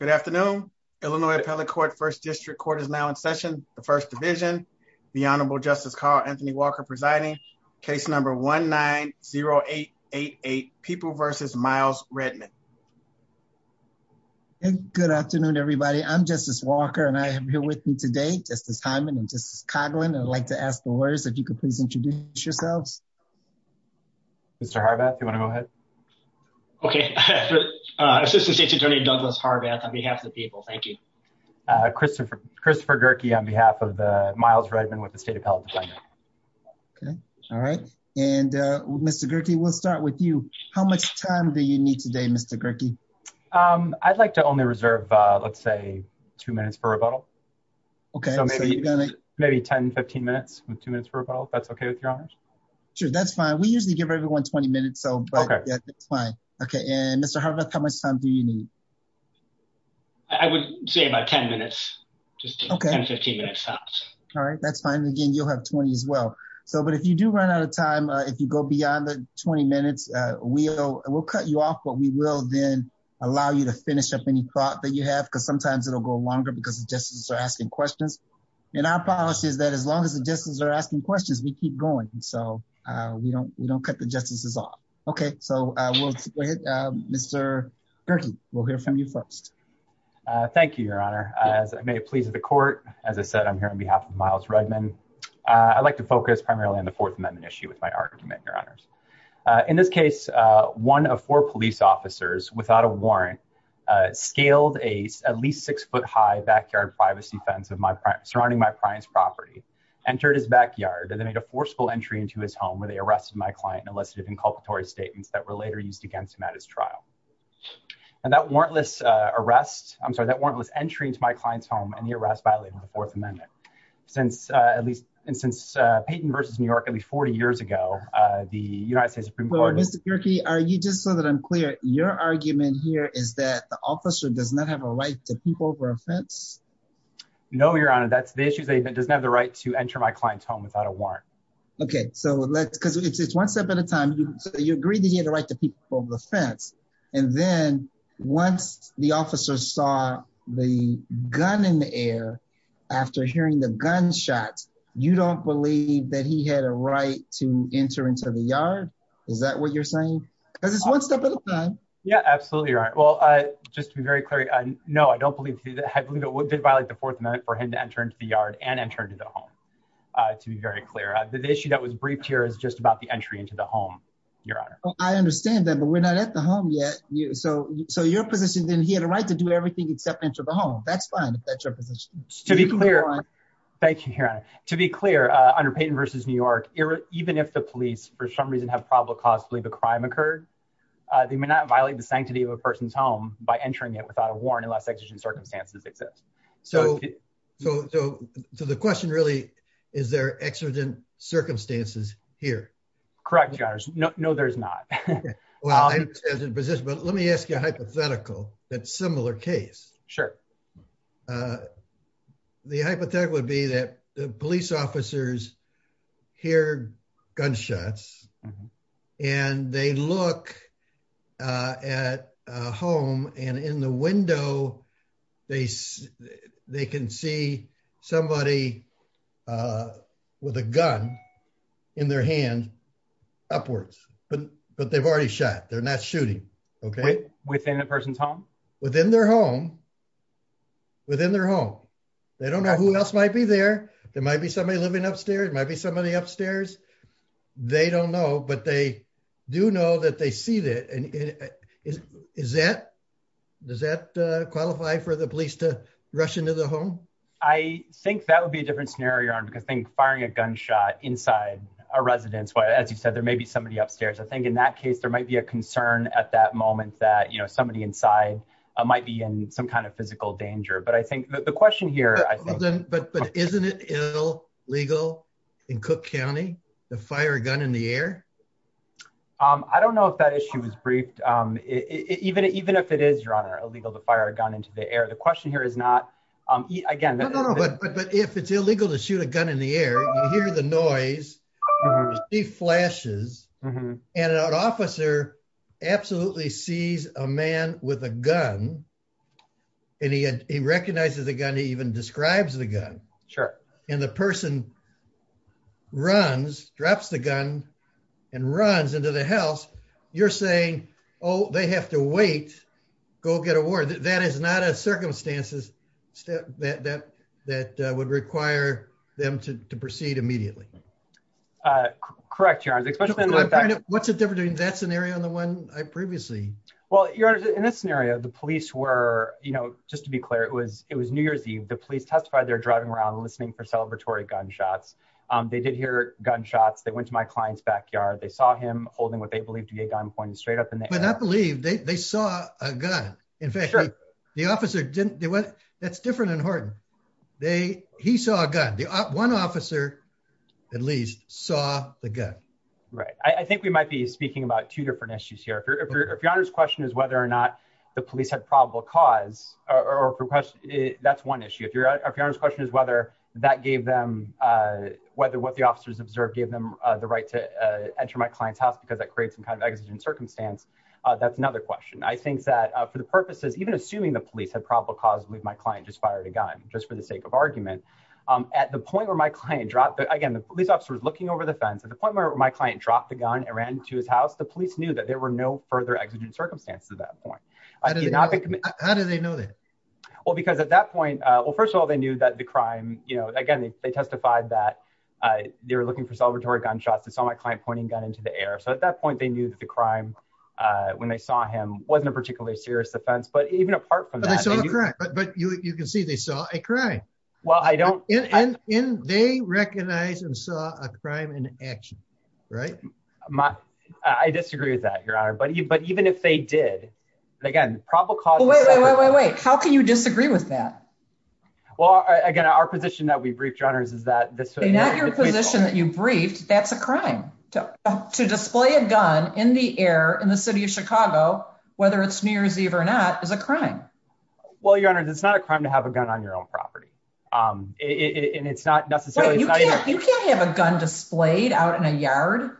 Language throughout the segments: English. Good afternoon, Illinois Appellate Court, 1st District Court is now in session, 1st Division. The Honorable Justice Carl Anthony Walker presiding, case number 1-9-0-8-8-8, People v. Miles Redmond. Good afternoon, everybody. I'm Justice Walker, and I am here with me today, Justice Hyman and Justice Coughlin. I'd like to ask the lawyers if you could please introduce yourselves. Mr. Harbath, do you want to go ahead? Okay. Assistant State's Attorney Douglas Harbath on behalf of the people. Thank you. Christopher Gerke on behalf of Miles Redmond with the State Appellate Department. Okay. All right. And Mr. Gerke, we'll start with you. How much time do you need today, Mr. Gerke? I'd like to only reserve, let's say, two minutes for rebuttal. Okay. So maybe 10-15 minutes with two minutes for rebuttal, if that's okay with your honor? Sure, that's fine. We usually give everyone 20 minutes, but that's fine. Okay. And Mr. Harbath, how much time do you need? I would say about 10 minutes, just 10-15 minutes tops. All right. That's fine. Again, you'll have 20 as well. But if you do run out of time, if you go beyond the 20 minutes, we'll cut you off, but we will then allow you to finish up any thought that you have, because sometimes it'll go longer because the justices are asking questions. And our policy is that as long as the justices are asking questions, we keep going. And so we don't cut the justices off. Okay. So we'll go ahead. Mr. Gerke, we'll hear from you first. Thank you, your honor. As I may have pleased the court, as I said, I'm here on behalf of Miles Rudman. I'd like to focus primarily on the Fourth Amendment issue with my argument, your honors. In this case, one of four police officers, without a warrant, scaled a at least six-foot high backyard privacy fence surrounding my prime's property, entered his backyard, and made a forceful entry into his home, where they arrested my client and elicited inculpatory statements that were later used against him at his trial. And that warrantless arrest, I'm sorry, that warrantless entry into my client's home and the arrest violated the Fourth Amendment. Since, at least, since Payton versus New York, at least 40 years ago, the United States Supreme Court- Well, Mr. Gerke, just so that I'm clear, your argument here is that the officer does not have a right to peep over a fence? No, your honor. That's the issue, that he doesn't have the right to enter my client's home without a warrant. Okay, so let's, because it's one step at a time. So you agree that he had a right to peep over the fence, and then once the officer saw the gun in the air, after hearing the gunshots, you don't believe that he had a right to enter into the yard? Is that what you're saying? Because it's one step at a time. Yeah, absolutely, your honor. Well, just to be very clear, no, I don't believe, I believe it did violate the Fourth Amendment for him to enter into the yard and enter into the home, to be very clear. The issue that was briefed here is just about the entry into the home, your honor. Well, I understand that, but we're not at the home yet. So, so your position, then, he had a right to do everything except enter the home. That's fine, if that's your position. To be clear, thank you, your honor. To be clear, under Payton versus New York, even if the police, for some reason, have probable cause to believe a crime occurred, they may not violate the sanctity of a person's home by entering it without a warrant unless exigent circumstances exist. So, so, so the question really, is there exigent circumstances here? Correct, your honors. No, no, there's not. Well, I understand the position, but let me ask you a hypothetical that's similar case. Sure. The hypothetical would be that the police officers hear gunshots, and they look at a They can see somebody with a gun in their hand upwards, but they've already shot. They're not shooting. Okay. Within a person's home? Within their home. Within their home. They don't know who else might be there. There might be somebody living upstairs. There might be somebody upstairs. They don't know, but they do know that they see that. Is that, does that qualify for the police to rush into the home? I think that would be a different scenario, your honor, because I think firing a gunshot inside a residence, as you said, there may be somebody upstairs. I think in that case, there might be a concern at that moment that, you know, somebody inside might be in some kind of physical danger. But I think the question here, I think. But isn't it illegal in Cook County to fire a gun in the air? I don't know if that issue is briefed. Even if it is, your honor, illegal to fire a gun into the air. The question here is not, again. No, no, no. But if it's illegal to shoot a gun in the air, you hear the noise. You see flashes. And an officer absolutely sees a man with a gun, and he recognizes the gun. He even describes the gun. Sure. And the person runs, drops the gun, and runs into the house. You're saying, oh, they have to wait, go get a warrant. That is not a circumstances that would require them to proceed immediately. Correct, your honor. What's the difference between that scenario and the one I previously? Well, your honor, in this scenario, the police were, you know, just to be clear, it was New They were driving around listening for celebratory gunshots. They did hear gunshots. They went to my client's backyard. They saw him holding what they believed to be a gun pointed straight up in the air. But I believe they saw a gun. In fact, the officer didn't. That's different in Horton. He saw a gun. One officer at least saw the gun. Right. I think we might be speaking about two different issues here. If your honor's question is whether or not the police had probable cause, that's one issue. If your honor's question is whether that gave them, whether what the officers observed gave them the right to enter my client's house because that creates some kind of exigent circumstance, that's another question. I think that for the purposes, even assuming the police had probable cause, I believe my client just fired a gun just for the sake of argument. At the point where my client dropped, again, the police officer was looking over the fence. At the point where my client dropped the gun and ran to his house, the police knew that there were no further exigent circumstances at that point. How did they know that? Well, because at that point, well, first of all, they knew that the crime, you know, again, they testified that they were looking for celebratory gunshots. They saw my client pointing a gun into the air. So at that point they knew that the crime when they saw him wasn't a particularly serious offense. But even apart from that. But you can see they saw a crime. Well, I don't. And they recognize and saw a crime in action, right? I disagree with that, Your Honor. But even if they did, again, probable cause. Wait, wait, wait, wait, wait. How can you disagree with that? Well, again, our position that we briefed, Your Honors, is that. Not your position that you briefed, that's a crime. To display a gun in the air in the city of Chicago, whether it's New Year's Eve or not, is a crime. Well, Your Honor, it's not a crime to have a gun on your own property. And it's not necessarily. You can't have a gun displayed out in a yard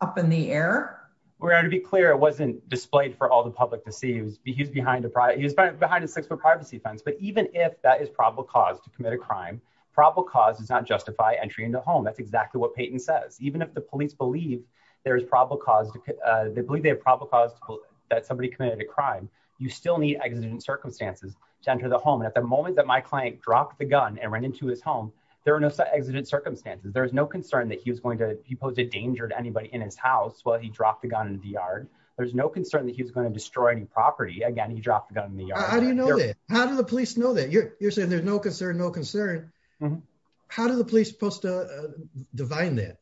up in the air. We're going to be clear. It wasn't displayed for all the public to see. He was behind a six foot privacy fence. But even if that is probable cause to commit a crime, probable cause does not justify entry into a home. That's exactly what Peyton says. Even if the police believe there is probable cause. They believe they have probable cause that somebody committed a crime. You still need exigent circumstances to enter the home. And at the moment that my client dropped the gun and ran into his home, there are no exigent circumstances. There is no concern that he posed a danger to anybody in his house while he dropped the gun in the yard. There's no concern that he was going to destroy any property. Again, he dropped the gun in the yard. How do you know that? How do the police know that? You're saying there's no concern, no concern. How do the police supposed to define that?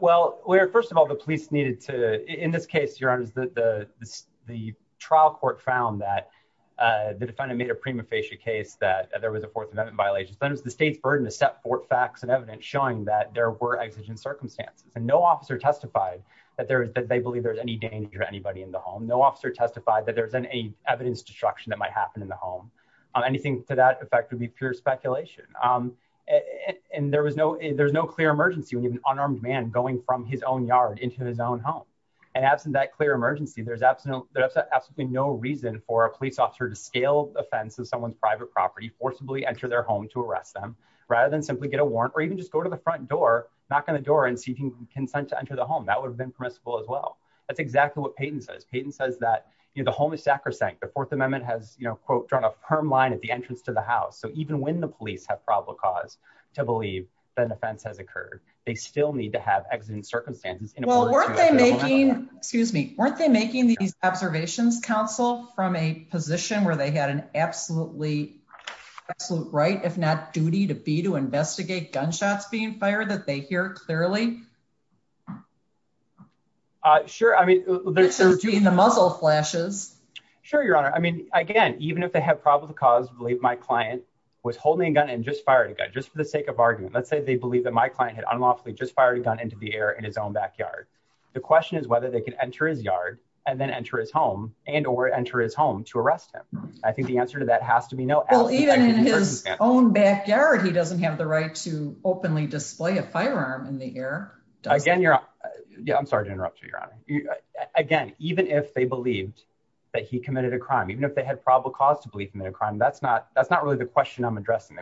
Well, first of all, the police needed to, in this case, Your Honor, the trial court found that the defendant made a prima facie case that there was a Fourth Amendment violation. But it was the state's burden to set forth facts and evidence showing that there were exigent circumstances. And no officer testified that they believe there was any danger to anybody in the home. No officer testified that there was any evidence destruction that might happen in the home. Anything to that effect would be pure speculation. And there was no, there's no clear emergency when you have an unarmed man going from his own yard into his own home. And absent that clear emergency, there's absolutely no reason for a police officer to scale the fence of someone's private property, forcibly enter their home to arrest them, rather than simply get a warrant or even just go to the front door, knock on the door and seek consent to enter the home. That would have been permissible as well. That's exactly what Payton says. Payton says that the home is sacrosanct. The Fourth Amendment has, you know, quote, drawn a firm line at the entrance to the house. So even when the police have probable cause to believe that an offense has occurred, they still need to have exigent circumstances. Well, weren't they making, excuse me, weren't they making these observations, counsel, from a position where they had an absolutely absolute right, if not duty to be to investigate gunshots being fired that they hear clearly? Uh, sure. I mean, the muzzle flashes. Sure, Your Honor. I mean, again, even if they have probable cause to believe my client was holding a gun and just fired a gun, just for the sake of argument. Let's say they believe that my client had unlawfully just fired a gun into the air in his own backyard. The question is whether they can enter his yard and then enter his home and or enter his home to arrest him. I think the answer to that has to be no. Well, even in his own backyard, he doesn't have the right to openly display a firearm in the air. Again, Your Honor. Yeah, I'm sorry to interrupt you, Your Honor. Again, even if they believed that he committed a crime, even if they had probable cause to believe him in a crime, that's not that's not really the question I'm addressing.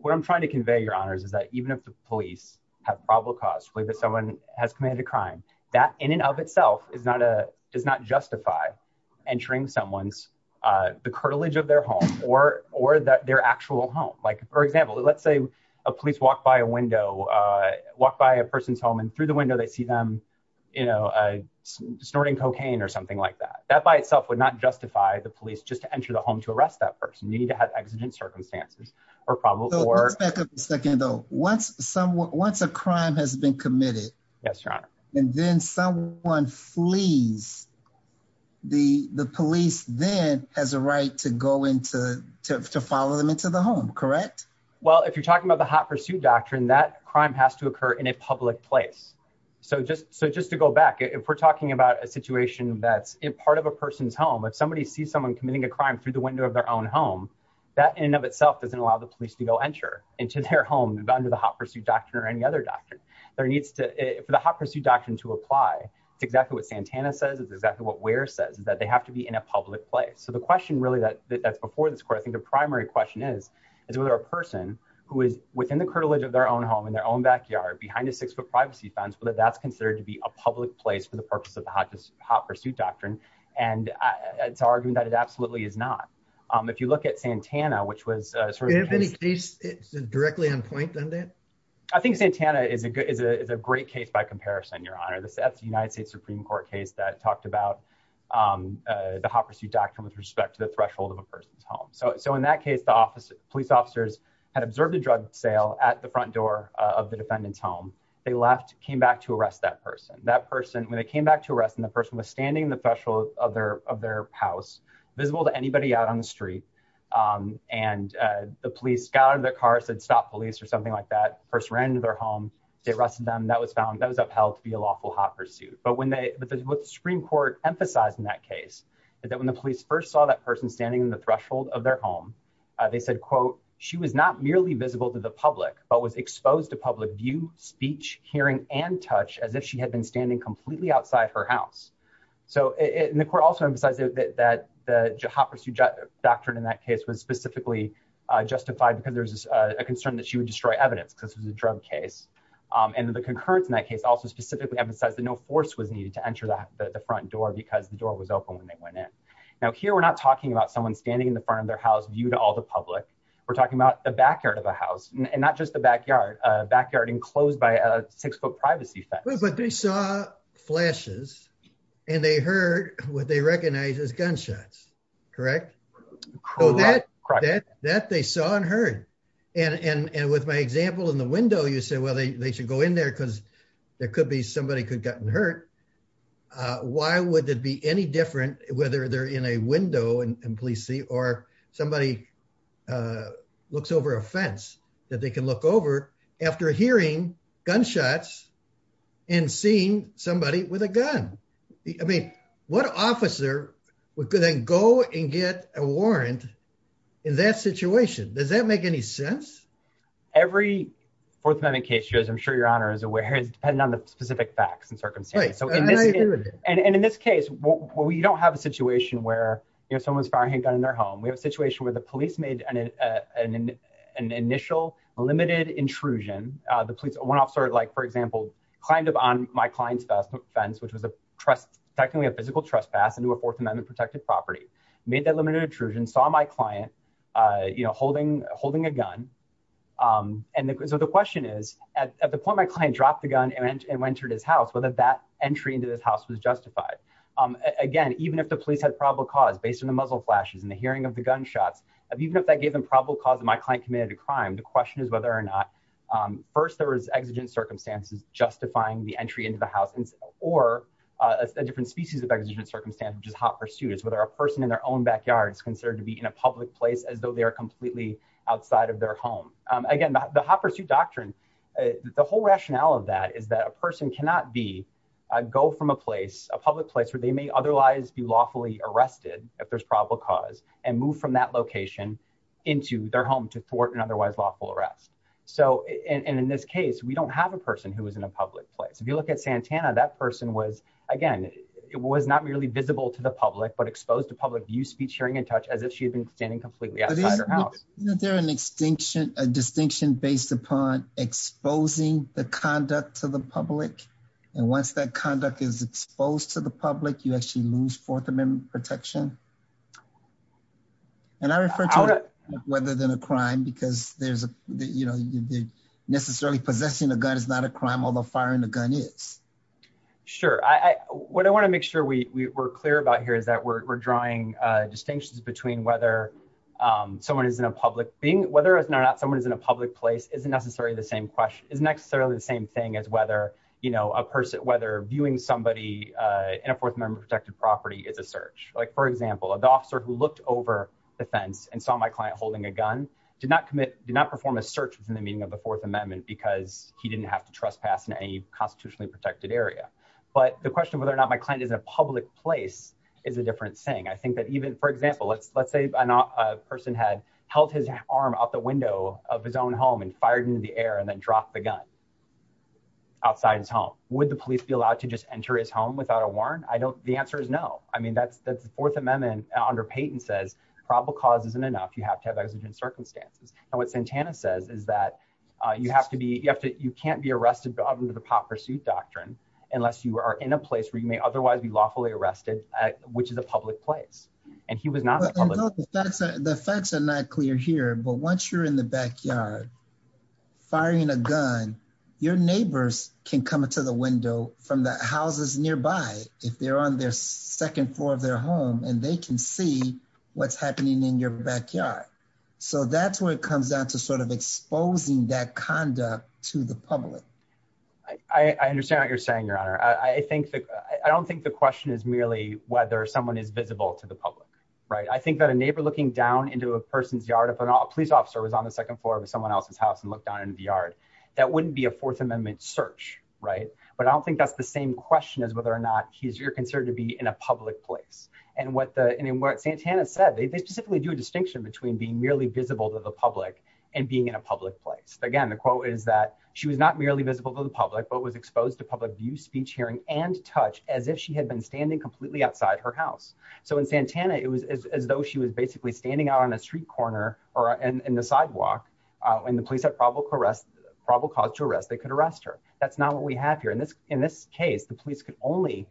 What I'm trying to convey, Your Honors, is that even if the police have probable cause to believe that someone has committed a crime, that in and of itself is not a does not justify entering someone's the curtilage of their home or or their actual home. Like, for example, let's say a police walk by a window, walk by a person's home and through the window they see them, you know, snorting cocaine or something like that. That by itself would not justify the police just to enter the home to arrest that person. You need to have exigent circumstances or probable cause. Let's back up a second, though. Once someone once a crime has been committed. Yes, Your Honor. And then someone flees. The police then has a right to go into to follow them into the home, correct? Well, if you're talking about the hot pursuit doctrine, that crime has to occur in a public place. So just so just to go back, if we're talking about a situation that's in part of a person's home, if somebody sees someone committing a crime through the window of their own home, that in and of itself doesn't allow the police to go enter into their home under the hot pursuit doctrine or any other doctrine. There needs to be the hot pursuit doctrine to apply. It's exactly what Santana says is exactly what where says that they have to be in a public place. So the question really that that's before this court, I think the primary question is, is whether a person who is within the cartilage of their own home in their own backyard behind a six foot privacy fence, whether that's considered to be a public place for the purpose of the hot pursuit doctrine. And it's arguing that it absolutely is not. If you look at Santana, which was sort of any case directly on point, then that I think Santana is a good is a great case by comparison, Your Honor. The United States Supreme Court case that talked about the hot pursuit doctrine with respect to the threshold of a person's home. So in that case, the office police officers had observed a drug sale at the front door of the defendant's home. They left, came back to arrest that person, that person when they came back to arrest and the person was standing in the threshold of their of their house visible to anybody out on the street. And the police got out of their car said stop police or something like that first ran into their home. They arrested them. That was found that was upheld to be a lawful hot pursuit. But when the Supreme Court emphasized in that case that when the police first saw that person standing in the threshold of their home, they said, quote, she was not merely visible to the public, but was exposed to public view, speech, hearing and touch as if she had been standing completely outside her house. So in the court also emphasizes that the hot pursuit doctrine in that case was specifically justified because there's a concern that she would destroy evidence because it was a drug case. And the concurrence in that case also specifically emphasized that no force was needed to enter the front door because the door was open when they went in. Now here we're not talking about someone standing in the front of their house view to all the public. We're talking about the backyard of a house and not just the backyard backyard enclosed by a six foot privacy. But they saw flashes, and they heard what they recognize as gunshots. Correct. Correct. That they saw and heard. And with my example in the window you said well they should go in there because there could be somebody could gotten hurt. Why would that be any different, whether they're in a window and please see or somebody looks over a fence that they can look over after hearing gunshots and seeing somebody with a gun. I mean, what officer would then go and get a warrant in that situation. Does that make any sense. Every fourth amendment case shows I'm sure your honor is aware is dependent on the specific facts and circumstances. And in this case, we don't have a situation where you know someone's firing a gun in their home we have a situation where the police made an initial limited intrusion, the police officer like for example, kind of on my clients best offense which was a trust technically a physical trespass into a fourth amendment protected property made that limited intrusion saw my client, you know, holding, holding a gun. And so the question is, at the point my client dropped the gun and entered his house whether that entry into this house was justified. Again, even if the police had probable cause based on the muzzle flashes and the hearing of the gunshots of even if that gave them probable cause of my client committed a crime the question is whether or not. First there was exigent circumstances, justifying the entry into the house or a different species of exigent circumstance which is hot pursuit is whether a person in their own backyard is considered to be in a public place as though they are completely outside of their home. Again, the hoppers you doctrine. The whole rationale of that is that a person cannot be go from a place a public place where they may otherwise be lawfully arrested, if there's probable cause and move from that location into their home to thwart and otherwise lawful arrest. So, and in this case we don't have a person who was in a public place if you look at Santana that person was, again, it was not really visible to the public but exposed to public view speech hearing and touch as if she had been standing completely. They're an extinction, a distinction based upon exposing the conduct to the public. And once that conduct is exposed to the public you actually lose for them in protection. And I refer to whether than a crime because there's a, you know, necessarily possessing a gun is not a crime although firing a gun is. Sure, I, what I want to make sure we were clear about here is that we're drawing distinctions between whether someone is in a public being whether it's not someone is in a public place isn't necessarily the same question is necessarily the same thing as whether you did not commit did not perform a search within the meaning of the Fourth Amendment because he didn't have to trespass in any constitutionally protected area. But the question whether or not my client is a public place is a different saying I think that even for example let's let's say I'm not a person had held his arm out the window of his own home and fired into the air and then drop the gun outside his home. Would the police be allowed to just enter his home without a warrant? I don't, the answer is no. I mean that's that's the Fourth Amendment under Peyton says probable cause isn't enough you have to have exigent circumstances. And what Santana says is that you have to be, you have to, you can't be arrested under the pot pursuit doctrine, unless you are in a place where you may otherwise be lawfully arrested, which is a public place, and he was not. The facts are not clear here but once you're in the backyard, firing a gun, your neighbors can come into the window from the houses nearby, if they're on their second floor of their home and they can see what's happening in your backyard. So that's where it comes down to sort of exposing that conduct to the public. I understand what you're saying your honor, I think that I don't think the question is merely whether someone is visible to the public. Right, I think that a neighbor looking down into a person's yard if a police officer was on the second floor of someone else's house and look down into the yard. That wouldn't be a Fourth Amendment search, right, but I don't think that's the same question as whether or not he's you're considered to be in a public place. And what Santana said, they specifically do a distinction between being merely visible to the public and being in a public place. Again, the quote is that she was not merely visible to the public but was exposed to public view, speech, hearing, and touch as if she had been standing completely outside her house. So in Santana it was as though she was basically standing out on a street corner, or in the sidewalk, and the police had probable cause to arrest, they could arrest her. But that's not what we have here. In this case, the police could only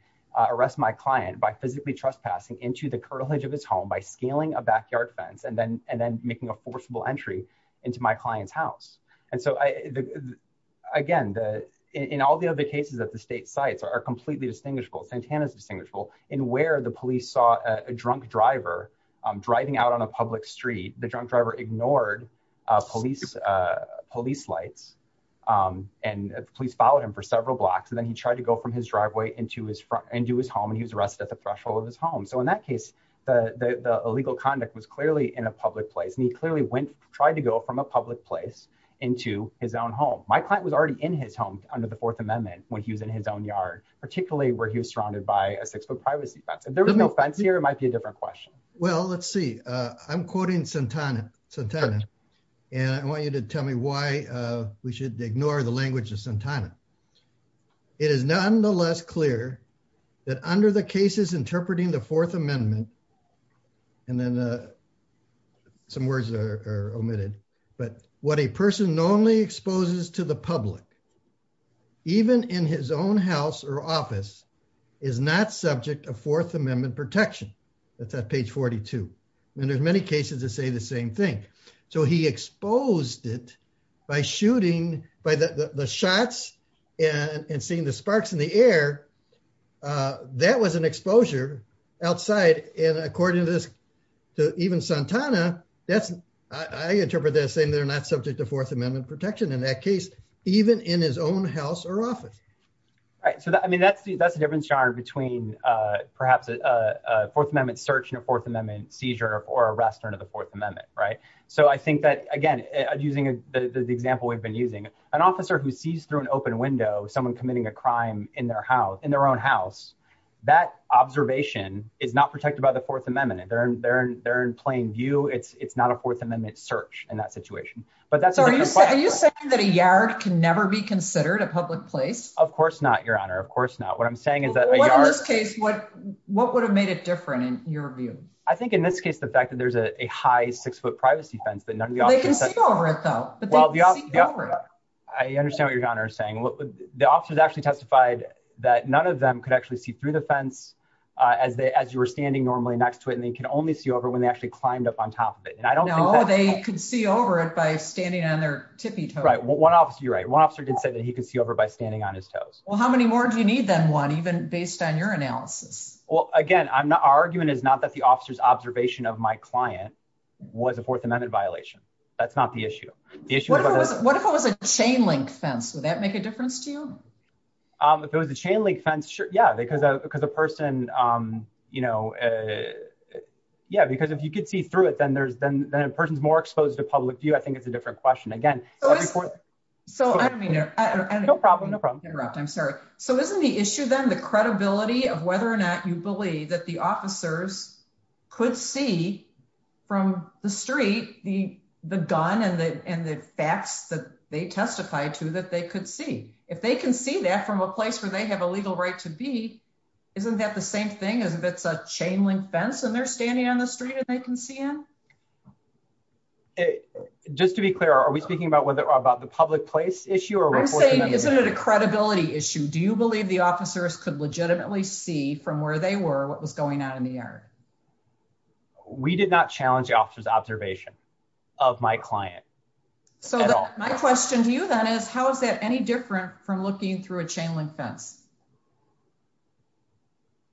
arrest my client by physically trespassing into the curtilage of his home by scaling a backyard fence and then making a forcible entry into my client's house. And so, again, in all the other cases that the state sites are completely distinguishable, Santana's distinguishable in where the police saw a drunk driver driving out on a public street, the drunk driver ignored police lights, and police followed him for several blocks and then he tried to go from his driveway into his home and he was arrested at the threshold of his home. So in that case, the illegal conduct was clearly in a public place and he clearly tried to go from a public place into his own home. My client was already in his home under the Fourth Amendment when he was in his own yard, particularly where he was surrounded by a six-foot privacy fence. If there was no fence here, it might be a different question. Well, let's see. I'm quoting Santana, and I want you to tell me why we should ignore the language of Santana. It is nonetheless clear that under the cases interpreting the Fourth Amendment, and then some words are omitted, but what a person normally exposes to the public, even in his own house or office, is not subject of Fourth Amendment protection. That's on page 42. And there's many cases that say the same thing. So he exposed it by shooting, by the shots and seeing the sparks in the air. That was an exposure outside and according to this, to even Santana, that's, I interpret that as saying they're not subject to Fourth Amendment protection in that case, even in his own house or office. I mean, that's the difference between perhaps a Fourth Amendment search and a Fourth Amendment seizure or arrest under the Fourth Amendment. So I think that, again, using the example we've been using, an officer who sees through an open window someone committing a crime in their own house, that observation is not protected by the Fourth Amendment. They're in plain view. It's not a Fourth Amendment search in that situation. Are you saying that a yard can never be considered a public place? Of course not, Your Honor. Of course not. What I'm saying is that a yard... In this case, what would have made it different in your view? I think in this case, the fact that there's a high six-foot privacy fence that none of the officers... They can see over it though, but they can't see over it. I understand what Your Honor is saying. The officers actually testified that none of them could actually see through the fence as you were standing normally next to it, and they can only see over when they actually climbed up on top of it. No, they could see over it by standing on their tippy toes. You're right. One officer did say that he could see over it by standing on his toes. Well, how many more do you need than one, even based on your analysis? Well, again, our argument is not that the officer's observation of my client was a Fourth Amendment violation. That's not the issue. What if it was a chain-link fence? Would that make a difference to you? If it was a chain-link fence, sure. Yeah, because if you could see through it, then a person's more exposed to public view. I think it's a different question. So isn't the issue then the credibility of whether or not you believe that the officers could see from the street the gun and the facts that they testified to that they could see? If they can see that from a place where they have a legal right to be, isn't that the same thing as if it's a chain-link fence and they're standing on the street and they can see in? Just to be clear, are we speaking about the public place issue or a Fourth Amendment issue? I'm saying isn't it a credibility issue? Do you believe the officers could legitimately see from where they were what was going on in the air? We did not challenge the officer's observation of my client at all. My question to you then is, how is that any different from looking through a chain-link fence?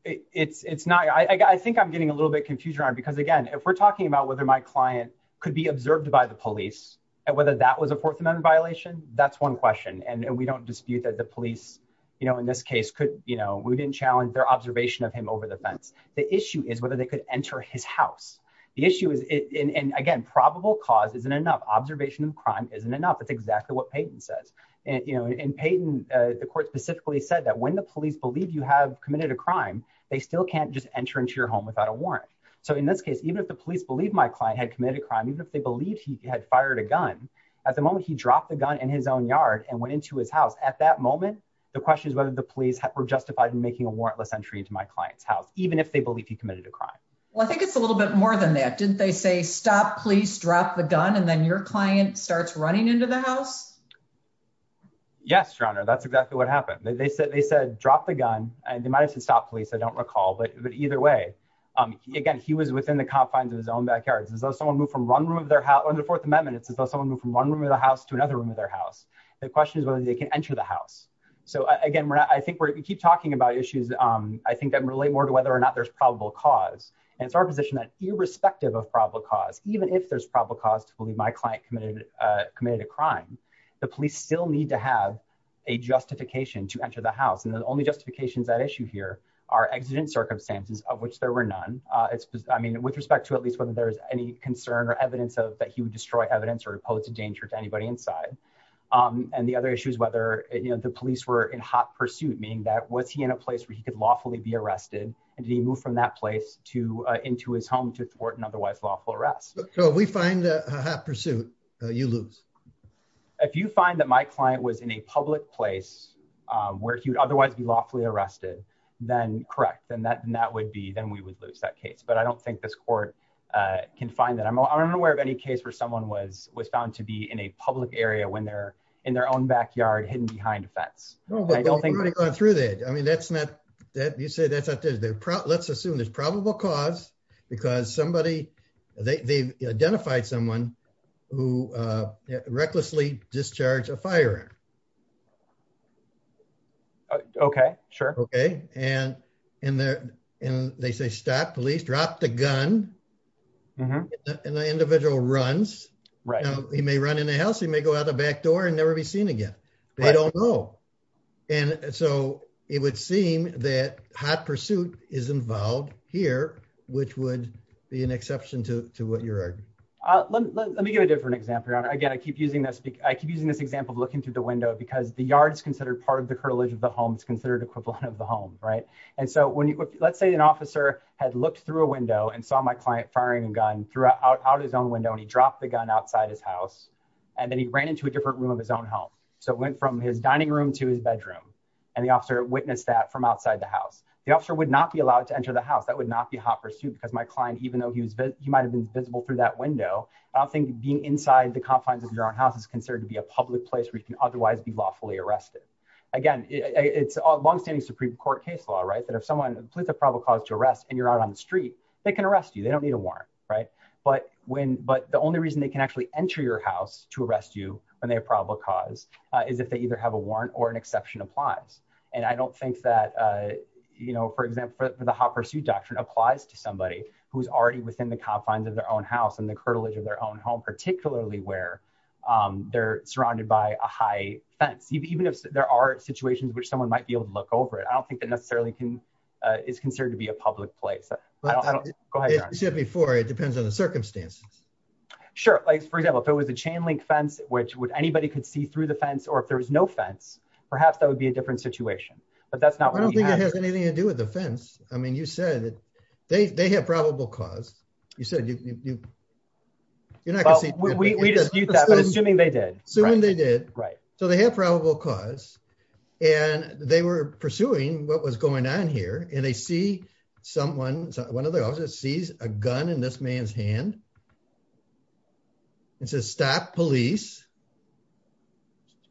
I think I'm getting a little bit confused around because, again, if we're talking about whether my client could be observed by the police and whether that was a Fourth Amendment violation, that's one question. And we don't dispute that the police, in this case, we didn't challenge their observation of him over the fence. The issue is whether they could enter his house. The issue is, again, probable cause isn't enough. Observation of crime isn't enough. That's exactly what Peyton says. And Peyton, the court specifically said that when the police believe you have committed a crime, they still can't just enter into your home without a warrant. So in this case, even if the police believe my client had committed a crime, even if they believed he had fired a gun, at the moment he dropped the gun in his own yard and went into his house, at that moment, the question is whether the police were justified in making a warrantless entry into my client's house, even if they believe he committed a crime. Well, I think it's a little bit more than that. Didn't they say, stop, please, drop the gun, and then your client starts running into the house? Yes, Your Honor, that's exactly what happened. They said, drop the gun, and they might have said, stop, please, I don't recall. But either way, again, he was within the confines of his own backyard. It's as though someone moved from one room of their house—under the Fourth Amendment, it's as though someone moved from one room of their house to another room of their house. The question is whether they can enter the house. So again, I think we keep talking about issues, I think, that relate more to whether or not there's probable cause. And it's our position that irrespective of probable cause, even if there's probable cause to believe my client committed a crime, the police still need to have a justification to enter the house. And the only justifications at issue here are exigent circumstances, of which there were none. I mean, with respect to at least whether there's any concern or evidence that he would destroy evidence or pose a danger to anybody inside. And the other issue is whether the police were in hot pursuit, meaning that was he in a place where he could lawfully be arrested? And did he move from that place into his home to thwart an otherwise lawful arrest? So if we find a hot pursuit, you lose. If you find that my client was in a public place where he would otherwise be lawfully arrested, then correct. Then that would be—then we would lose that case. But I don't think this court can find that. I'm unaware of any case where someone was found to be in a public area when they're in their own backyard, hidden behind a fence. No, but we've already gone through that. I mean, that's not—you say that's not true. Let's assume there's probable cause because somebody—they've identified someone who recklessly discharged a firearm. Okay, sure. Okay. And they say, stop, police, drop the gun. And the individual runs. He may run in the house. He may go out the back door and never be seen again. They don't know. And so it would seem that hot pursuit is involved here, which would be an exception to what you're arguing. Let me give a different example, Your Honor. Again, I keep using this—I keep using this example of looking through the window because the yard is considered part of the curtilage of the home. It's considered equivalent of the home, right? And so when you—let's say an officer had looked through a window and saw my client firing a gun out his own window, and he dropped the gun outside his house. And then he ran into a different room of his own home. So it went from his dining room to his bedroom. And the officer witnessed that from outside the house. The officer would not be allowed to enter the house. That would not be hot pursuit because my client, even though he might have been visible through that window, I don't think being inside the confines of your own house is considered to be a public place where you can otherwise be lawfully arrested. Again, it's a longstanding Supreme Court case law, right, that if someone—police have probable cause to arrest and you're out on the street, they can arrest you. They don't need a warrant, right? But the only reason they can actually enter your house to arrest you when they have probable cause is if they either have a warrant or an exception applies. And I don't think that, you know, for example, the hot pursuit doctrine applies to somebody who's already within the confines of their own house and the curtilage of their own home, particularly where they're surrounded by a high fence. Even if there are situations in which someone might be able to look over it, I don't think that necessarily is considered to be a public place. Go ahead, John. As you said before, it depends on the circumstances. Sure. Like, for example, if it was a chain-link fence, which anybody could see through the fence, or if there was no fence, perhaps that would be a different situation. But that's not what we have. I don't think it has anything to do with the fence. I mean, you said that they have probable cause. You said you—you're not going to see— Well, we dispute that, but assuming they did. Assuming they did. Right. So they have probable cause, and they were pursuing what was going on here, and they see someone—one of the officers sees a gun in this man's hand and says, stop, police.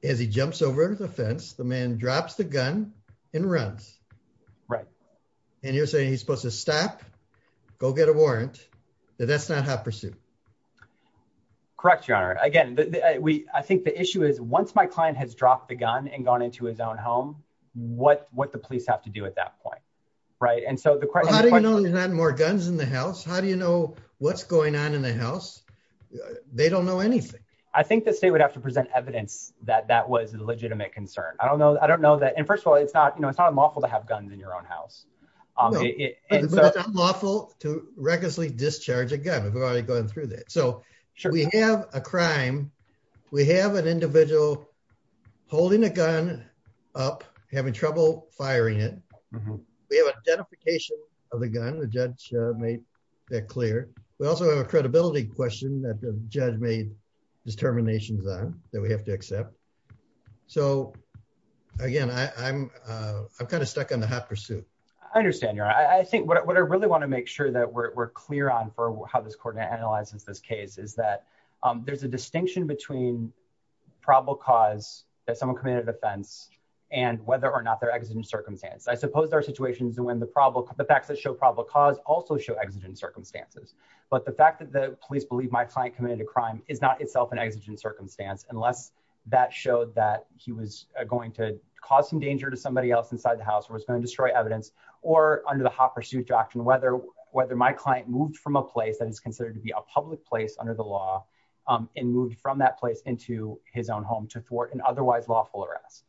As he jumps over the fence, the man drops the gun and runs. Right. And you're saying he's supposed to stop, go get a warrant, that that's not hot pursuit. Correct, Your Honor. Again, I think the issue is once my client has dropped the gun and gone into his own home, what the police have to do at that point, right? And so the question— How do you know there's not more guns in the house? How do you know what's going on in the house? They don't know anything. I think the state would have to present evidence that that was a legitimate concern. I don't know. I don't know that—and first of all, it's not unlawful to have guns in your own house. It's unlawful to recklessly discharge a gun. We've already gone through that. So we have a crime. We have an individual holding a gun up, having trouble firing it. We have identification of the gun. The judge made that clear. We also have a credibility question that the judge made determinations on that we have to accept. So, again, I'm kind of stuck on the hot pursuit. I understand, Your Honor. I think what I really want to make sure that we're clear on for how this court analyzes this case is that there's a distinction between probable cause that someone committed a offense and whether or not they're exigent circumstance. I suppose there are situations when the facts that show probable cause also show exigent circumstances. But the fact that the police believe my client committed a crime is not itself an exigent circumstance unless that showed that he was going to cause some danger to somebody else inside the house or was going to destroy evidence or under the hot pursuit doctrine, whether my client moved from a place that is considered to be a public place under the law and moved from that place into his own home to thwart an otherwise lawful arrest.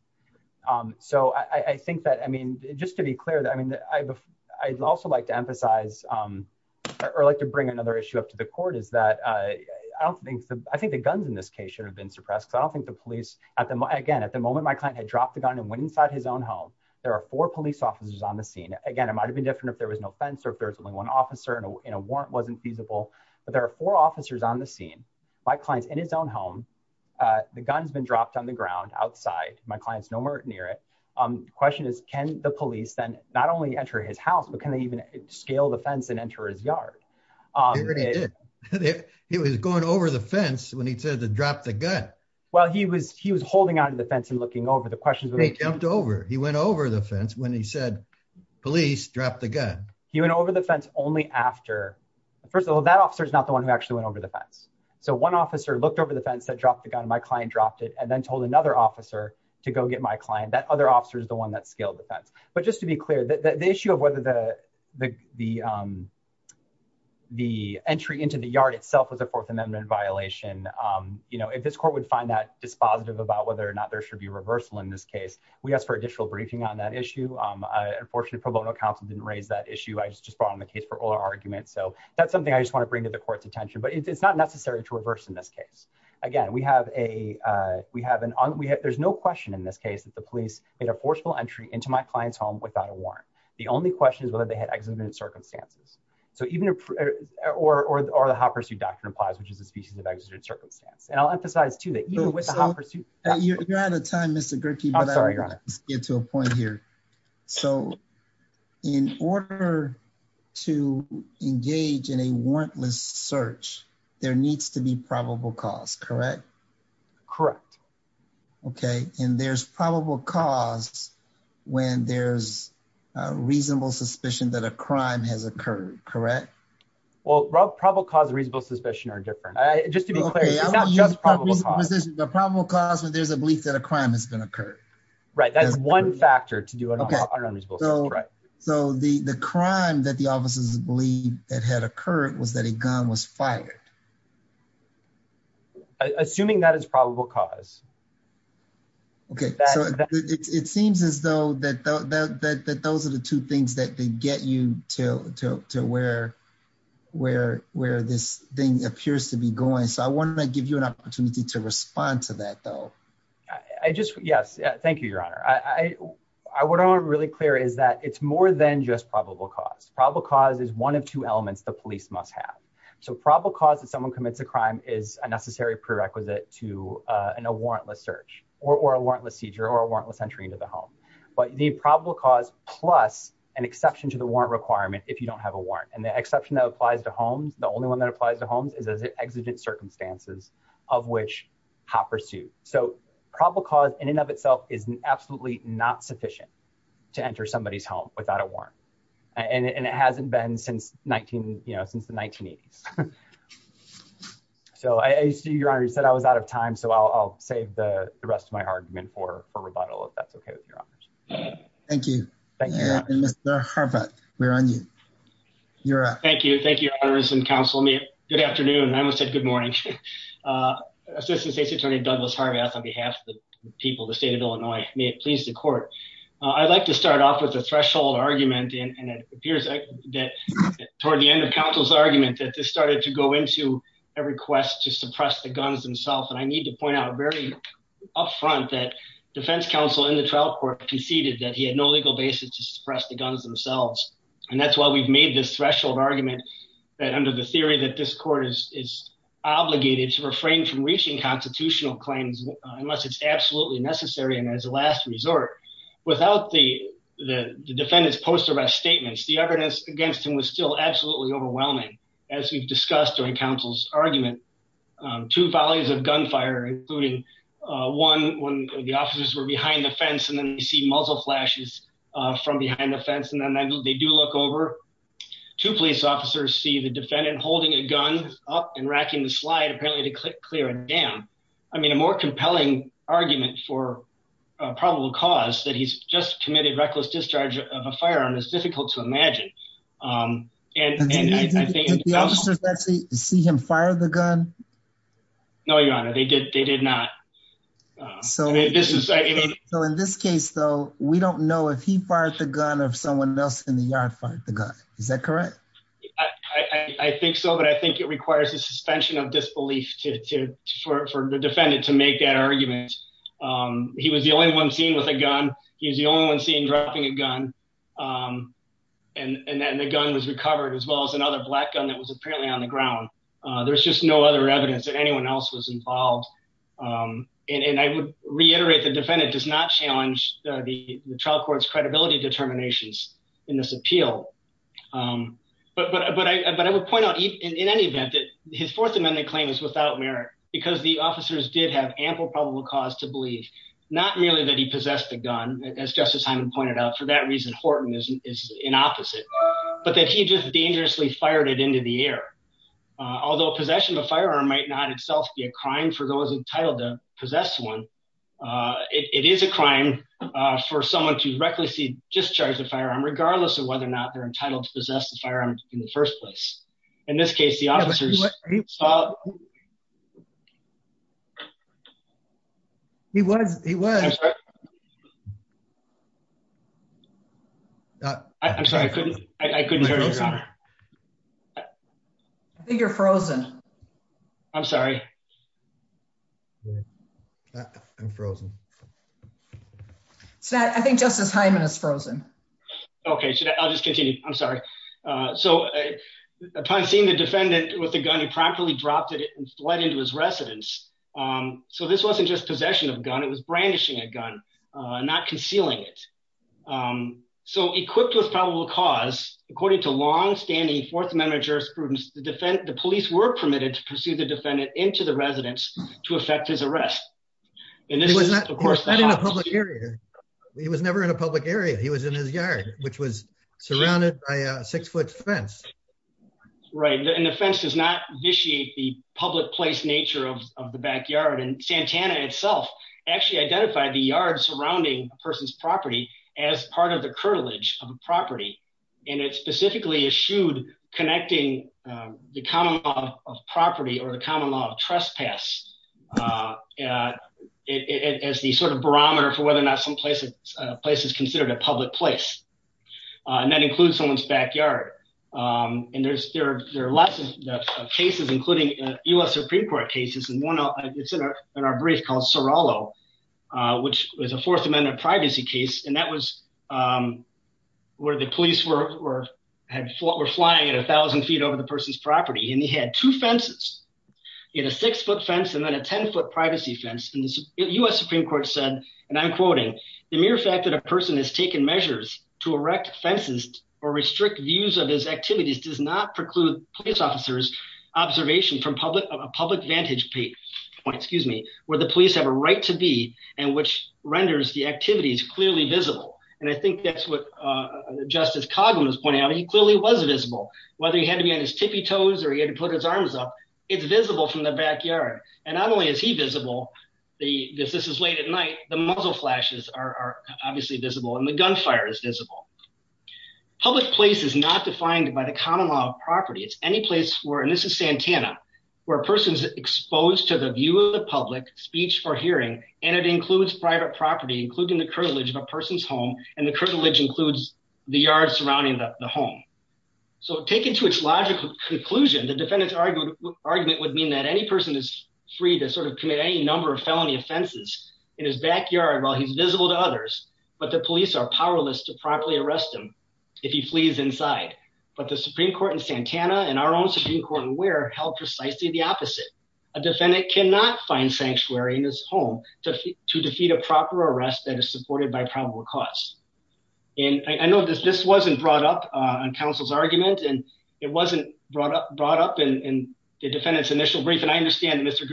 So I think that, I mean, just to be clear, I'd also like to emphasize or like to bring another issue up to the court is that I think the guns in this case should have been suppressed because I don't think the police, again, at the moment my client had dropped the gun and went inside his own home. There are four police officers on the scene. Again, it might have been different if there was no fence or if there was only one officer and a warrant wasn't feasible. But there are four officers on the scene. My client's in his own home. The gun's been dropped on the ground outside. My client's nowhere near it. The question is, can the police then not only enter his house, but can they even scale the fence and enter his yard? They already did. He was going over the fence when he said to drop the gun. Well, he was holding onto the fence and looking over. They jumped over. He went over the fence when he said police, drop the gun. He went over the fence only after. First of all, that officer is not the one who actually went over the fence. So one officer looked over the fence, said drop the gun. My client dropped it and then told another officer to go get my client. That other officer is the one that scaled the fence. But just to be clear, the issue of whether the entry into the yard itself was a Fourth Amendment violation, if this court would find that dispositive about whether or not there should be reversal in this case, we ask for additional briefing on that issue. Unfortunately, pro bono counsel didn't raise that issue. I just brought on the case for oral argument. So that's something I just want to bring to the court's attention. But it's not necessary to reverse in this case. Again, there's no question in this case that the police made a forceful entry into my client's home without a warrant. The only question is whether they had exigent circumstances. Or the hot pursuit doctrine applies, which is a species of exigent circumstance. And I'll emphasize, too, that even with the hot pursuit doctrine. You're out of time, Mr. Gerke. I'm sorry, Your Honor. Let's get to a point here. So in order to engage in a warrantless search, there needs to be probable cause, correct? Correct. Okay. And there's probable cause when there's reasonable suspicion that a crime has occurred, correct? Well, probable cause and reasonable suspicion are different. Just to be clear, it's not just probable cause. Okay. I'm going to use probable cause when there's a belief that a crime has been occurred. Right. That's one factor to do an unreasonable search. Okay. So the crime that the officers believed that had occurred was that a gun was fired. Assuming that is probable cause. Okay. So it seems as though that those are the two things that get you to where this thing appears to be going. So I want to give you an opportunity to respond to that, though. Yes. Thank you, Your Honor. What I want to be really clear is that it's more than just probable cause. Probable cause is one of two elements the police must have. So probable cause that someone commits a crime is a necessary prerequisite to a warrantless search or a warrantless seizure or a warrantless entry into the home. But the probable cause plus an exception to the warrant requirement if you don't have a warrant. And the exception that applies to homes, the only one that applies to homes, is as an exigent circumstances of which hot pursuit. So probable cause in and of itself is absolutely not sufficient to enter somebody's home without a warrant. And it hasn't been since the 1980s. So I see, Your Honor, you said I was out of time. So I'll save the rest of my argument for rebuttal, if that's okay with Your Honor. Thank you. Mr. Harvath, we're on you. Thank you. Thank you, Your Honors and counsel. Good afternoon. I almost said good morning. Assistant State's Attorney Douglas Harvath on behalf of the people of the state of Illinois. May it please the court. I'd like to start off with a threshold argument. And it appears that toward the end of counsel's argument that this started to go into a request to suppress the guns themselves. And I need to point out very up front that defense counsel in the trial court conceded that he had no legal basis to suppress the guns themselves. And that's why we've made this threshold argument that under the theory that this court is obligated to refrain from reaching constitutional claims, unless it's absolutely necessary. And as a last resort, without the defendant's post arrest statements, the evidence against him was still absolutely overwhelming. As we've discussed during counsel's argument. Two volleys of gunfire, including one when the officers were behind the fence and then you see muzzle flashes from behind the fence and then they do look over. Two police officers see the defendant holding a gun up and racking the slide apparently to clear a dam. I mean a more compelling argument for probable cause that he's just committed reckless discharge of a firearm is difficult to imagine. Did the officers actually see him fire the gun? No, Your Honor, they did not. So in this case, though, we don't know if he fired the gun or if someone else in the yard fired the gun. Is that correct? I think so, but I think it requires a suspension of disbelief for the defendant to make that argument. He was the only one seen with a gun. He's the only one seen dropping a gun. And then the gun was recovered as well as another black gun that was apparently on the ground. There's just no other evidence that anyone else was involved. And I would reiterate the defendant does not challenge the trial court's credibility determinations in this appeal. But I would point out in any event that his Fourth Amendment claim is without merit because the officers did have ample probable cause to believe. Not merely that he possessed the gun, as Justice Hyman pointed out, for that reason, Horton is in opposite, but that he just dangerously fired it into the air. Although possession of a firearm might not itself be a crime for those entitled to possess one. It is a crime for someone to recklessly discharge the firearm, regardless of whether or not they're entitled to possess the firearm in the first place. In this case, the officers. He was he was. I'm sorry, I couldn't hear you. I think you're frozen. I'm sorry. I'm frozen. So I think Justice Hyman is frozen. Okay, I'll just continue. I'm sorry. So, upon seeing the defendant with the gun he promptly dropped it and fled into his residence. So this wasn't just possession of gun it was brandishing a gun, not concealing it. So equipped with probable cause, according to long standing Fourth Amendment jurisprudence, the police were permitted to pursue the defendant into the residence to affect his arrest. And this was not in a public area. He was never in a public area he was in his yard, which was surrounded by a six foot fence. Right, and the fence does not initiate the public place nature of the backyard and Santana itself actually identified the yard surrounding person's property as part of the curtilage of property, and it specifically issued connecting the common property or the common law of trespass. It is the sort of barometer for whether or not someplace, a place is considered a public place. And that includes someone's backyard. And there's there, there are lots of cases, including us Supreme Court cases and one of our brief called Sorolo, which was a Fourth Amendment privacy case and that was where the police were had fought were flying at 1000 feet over the person's property and he had two foot fence and then a 10 foot privacy fence in the US Supreme Court said, and I'm quoting the mere fact that a person has taken measures to erect fences or restrict views of his activities does not preclude police officers observation from public public vantage point, excuse me, where the police have a right to be, and which renders the activities clearly visible. And I think that's what Justice Cogman was pointing out he clearly was visible, whether he had to be on his tippy toes or he had to put his foot in the back yard, and not only is he visible. The, this is late at night, the muzzle flashes are obviously visible and the gunfire is visible public place is not defined by the common law of property it's any place where and this is Santana, where a person's exposed to the view of the public speech or hearing, and it includes private property including the privilege of a person's home, and the privilege includes the yard surrounding the home. So taken to its logical conclusion the defendant's argument argument would mean that any person is free to sort of commit any number of felony offenses in his backyard while he's visible to others, but the police are powerless to properly arrest him. If he flees inside, but the Supreme Court in Santana and our own Supreme Court and we're held precisely the opposite. A defendant cannot find sanctuary in his home to to defeat a proper arrest that is supported by probable cause. And I know this this wasn't brought up on counsel's argument and it wasn't brought up brought up and defendants initial brief and I understand Mr.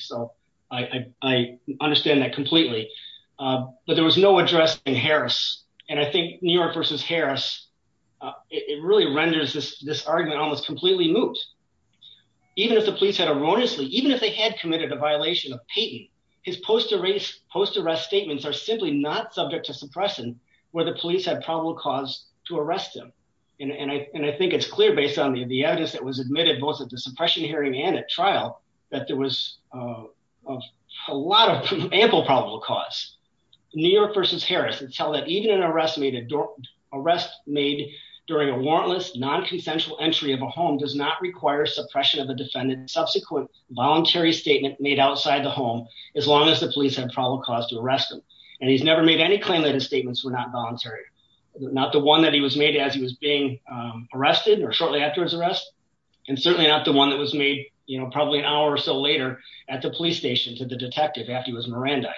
So, I understand that completely. But there was no address in Harris, and I think New York versus Harris. It really renders this this argument almost completely moot. Even if the police had erroneously even if they had committed a violation of Peyton his post erase post arrest statements are simply not subject to suppress and where the police had probable cause to arrest him. And I think it's clear based on the the evidence that was admitted both of the suppression hearing and at trial that there was a lot of ample probable cause New York versus Harris and tell that even an arrest made a door arrest made during a warrantless non consensual entry of a home does not require suppression of a defendant subsequent voluntary statement made outside the home. As long as the police have probable cause to arrest them. And he's never made any claim that his statements were not voluntary, not the one that he was made as he was being arrested or shortly after his arrest, and certainly not the one that was made, you know, probably an hour or so later at the police station to the detective after he was Miranda.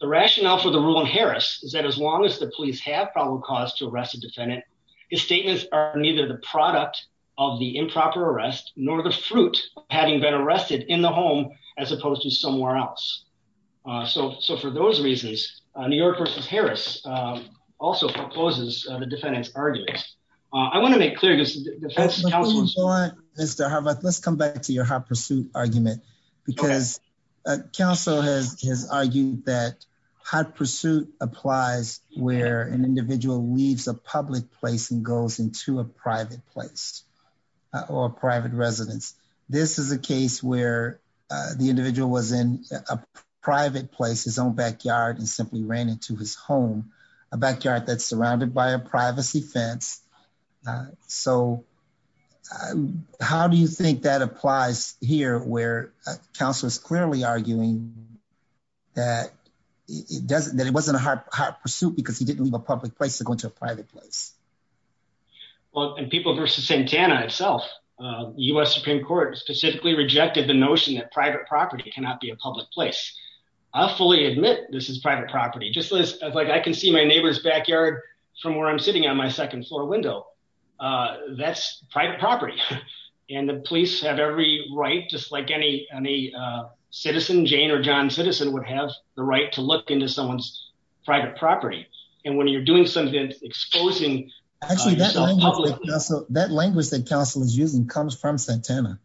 The rationale for the ruling Harris is that as long as the police have probable cause to arrest a defendant. His statements are neither the product of the improper arrest, nor the fruit, having been arrested in the home, as opposed to somewhere else. So, so for those reasons, New York versus Harris. Also proposes the defendants arguments. I want to make clear this. Mr Harvard, let's come back to your hot pursuit argument, because counsel has argued that hot pursuit applies where an individual leaves a public place and goes into a private place or private residence. This is a case where the individual was in a private place his own backyard and simply ran into his home, a backyard that's surrounded by a privacy fence. So, how do you think that applies here where counselors clearly arguing that it doesn't that it wasn't a hot pursuit because he didn't leave a public place to go into a private place. Well, and people versus Santana itself, US Supreme Court specifically rejected the notion that private property cannot be a public place. I fully admit this is private property just like I can see my neighbor's backyard from where I'm sitting on my second floor window. That's private property, and the police have every right just like any, any citizen Jane or john citizen would have the right to look into someone's private property. And when you're doing something exposing that language that counsel is using comes from Santana.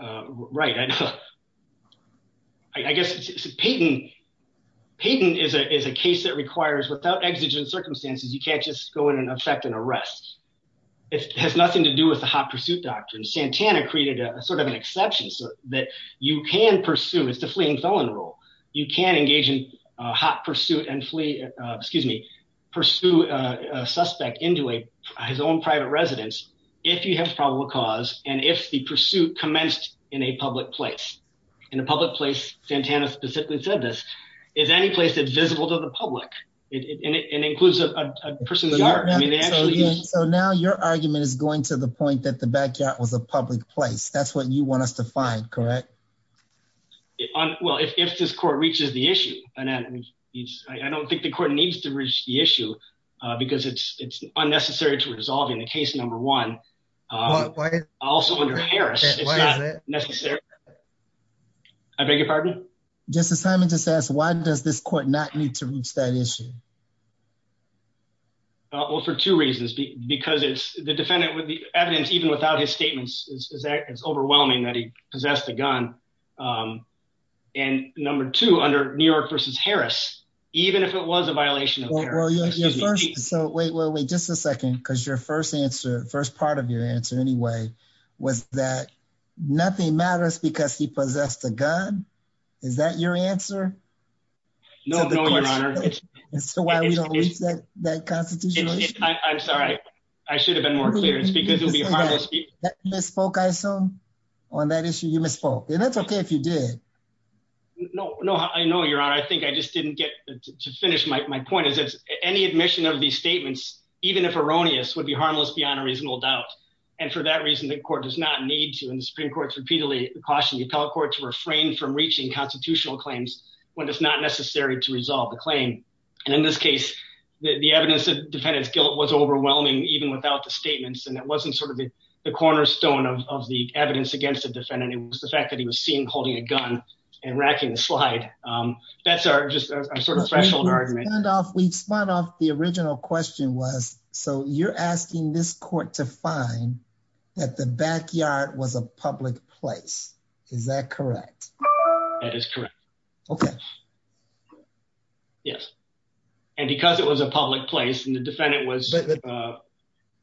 Right. I guess it's a patent. Patent is a case that requires without exigent circumstances you can't just go in and affect an arrest. It has nothing to do with the hot pursuit doctrine Santana created a sort of an exception so that you can pursue is the fleeing felon rule, you can engage in hot pursuit and flee, excuse me, pursue a suspect into a his own private residence. If you have probable cause, and if the pursuit commenced in a public place in a public place Santana specifically said this is any place that visible to the public. It includes a person. So now your argument is going to the point that the backyard was a public place that's what you want us to find correct. Well if this court reaches the issue, and then he's, I don't think the court needs to reach the issue, because it's, it's unnecessary to resolve in the case number one. Also, necessary. I beg your pardon, just as Simon just asked why does this court not need to reach that issue. Well, for two reasons, because it's the defendant with the evidence even without his statements is overwhelming that he possessed a gun. And number two under New York versus Harris, even if it was a violation. So wait wait wait just a second because your first answer first part of your answer anyway, was that nothing matters because he possessed a gun. Is that your answer. No, no your honor. And so why we don't need that that constitution. I'm sorry, I should have been more clear it's because it will be a spoke I assume on that issue you misspoke and that's okay if you did. No, no, I know you're on I think I just didn't get to finish my point is it's any admission of these statements, even if erroneous would be harmless beyond a reasonable doubt. And for that reason, the court does not need to in the Supreme Court repeatedly caution the appellate court to refrain from reaching constitutional claims when it's not necessary to resolve the claim. And in this case, the evidence of defendants guilt was overwhelming, even without the statements and it wasn't sort of the cornerstone of the evidence against the defendant, it was the fact that he was seen holding a gun and racking the slide. That's our just sort of threshold argument off we've spun off the original question was, so you're asking this court to find that the backyard was a public place. Is that correct. That is correct. Okay. Yes. And because it was a public place and the defendant was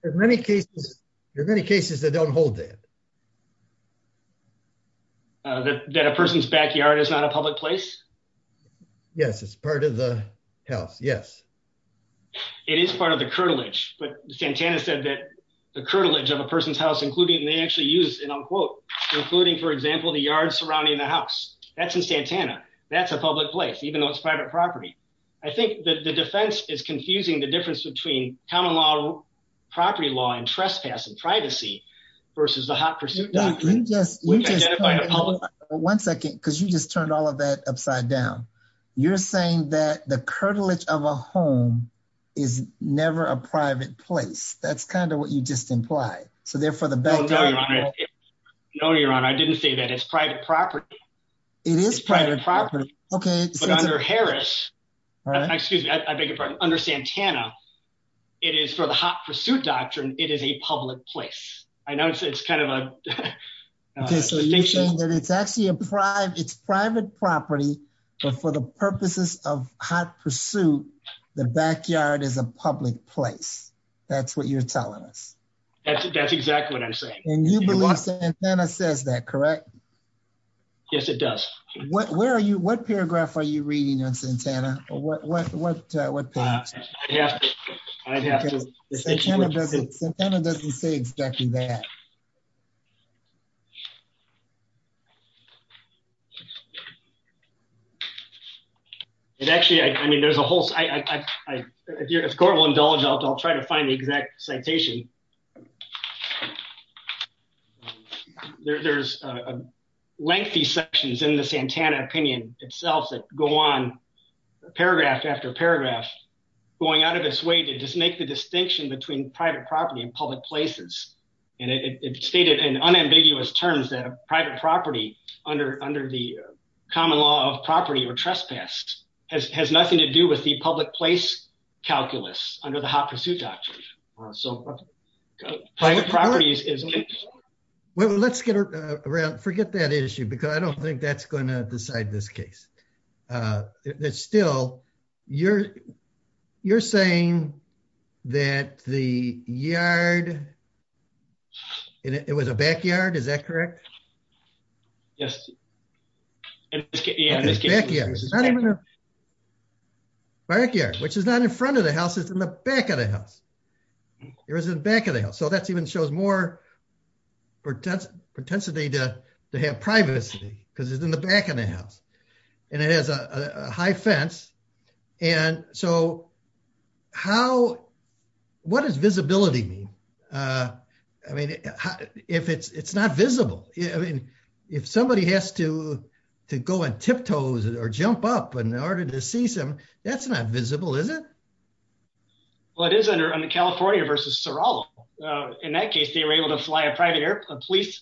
many cases. There are many cases that don't hold that that a person's backyard is not a public place. Yes, it's part of the house. Yes. It is part of the cartilage, but Santana said that the cartilage of a person's house including they actually use an unquote, including for example the yard surrounding the house that's in Santana, that's a public place even though it's private property. I think that the defense is confusing the difference between common law property law and trespassing privacy versus the hot pursuit. Yes. One second, because you just turned all of that upside down. You're saying that the cartilage of a home is never a private place. That's kind of what you just imply. So therefore the better. No, you're on I didn't say that it's private property. It is private property. Okay. Under Harris. Excuse me, I beg your pardon. Under Santana. It is for the hot pursuit doctrine, it is a public place. I noticed it's kind of a. It's actually a private it's private property, but for the purposes of hot pursuit. The backyard is a public place. That's what you're telling us. That's exactly what I'm saying. And you believe that says that correct. Yes, it does. What, where are you what paragraph are you reading on Santana, what, what, what, what. I'd have to visit Santa doesn't say exactly that. It actually I mean there's a whole. If you're going to indulge I'll try to find the exact citation. There's a lengthy sections in the Santana opinion itself that go on paragraph after paragraph, going out of this way to just make the distinction between private property and public places. And it stated and unambiguous terms that a private property under under the common law of property or trespass has nothing to do with the public place calculus under the hot pursuit doctrine. So, private properties is. Well, let's get around forget that issue because I don't think that's going to decide this case. It's still, you're, you're saying that the yard. It was a backyard. Is that correct. Yes. Backyard. Backyard, which is not in front of the house is in the back of the house. There isn't back of the house so that's even shows more pretense pretensity to have privacy, because it's in the back of the house. And it has a high fence. And so, how. What is visibility me. I mean, if it's it's not visible. Yeah, I mean, if somebody has to go and tiptoes or jump up and in order to see some, that's not visible is it. What is under on the California versus Sarala. In that case they were able to fly a private airplane police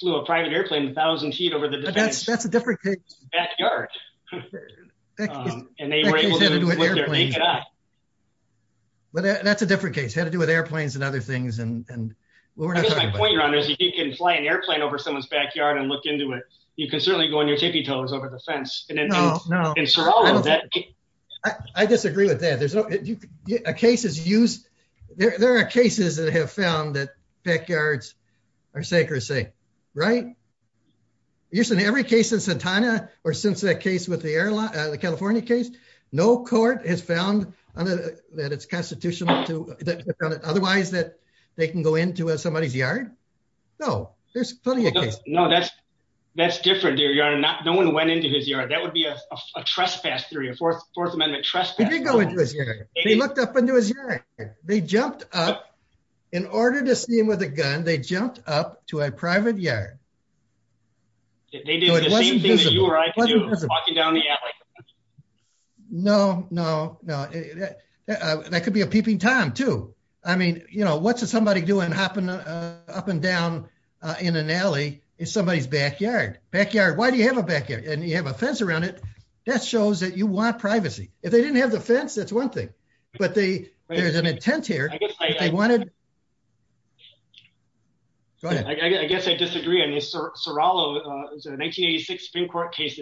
flew a private airplane 1000 feet over the defense that's a different backyard. And they were able to do it. But that's a different case had to do with airplanes and other things and we're not going around as you can fly an airplane over someone's backyard and look into it, you can certainly go on your tippy toes over the fence. No, no. I disagree with that there's no cases use. There are cases that have found that backyards are sacred say, right. Usually in every case in Santana, or since that case with the airline, the California case, no court has found that it's constitutional to otherwise that they can go into somebody's yard. No, there's plenty of no that's that's different. No one went into his yard that would be a trespass three or four, Fourth Amendment trespass. He looked up and do his. They jumped up in order to see him with a gun they jumped up to a private yard. They do the same thing that you are walking down the alley. No, no, no. That could be a peeping Tom to, I mean, you know, what's somebody doing hopping up and down in an alley is somebody's backyard backyard Why do you have a backyard and you have a fence around it. That shows that you want privacy, if they didn't have the fence that's one thing, but they, there's an intent here. I wanted. Go ahead, I guess I disagree. So, Rallo is an 1886 Supreme Court case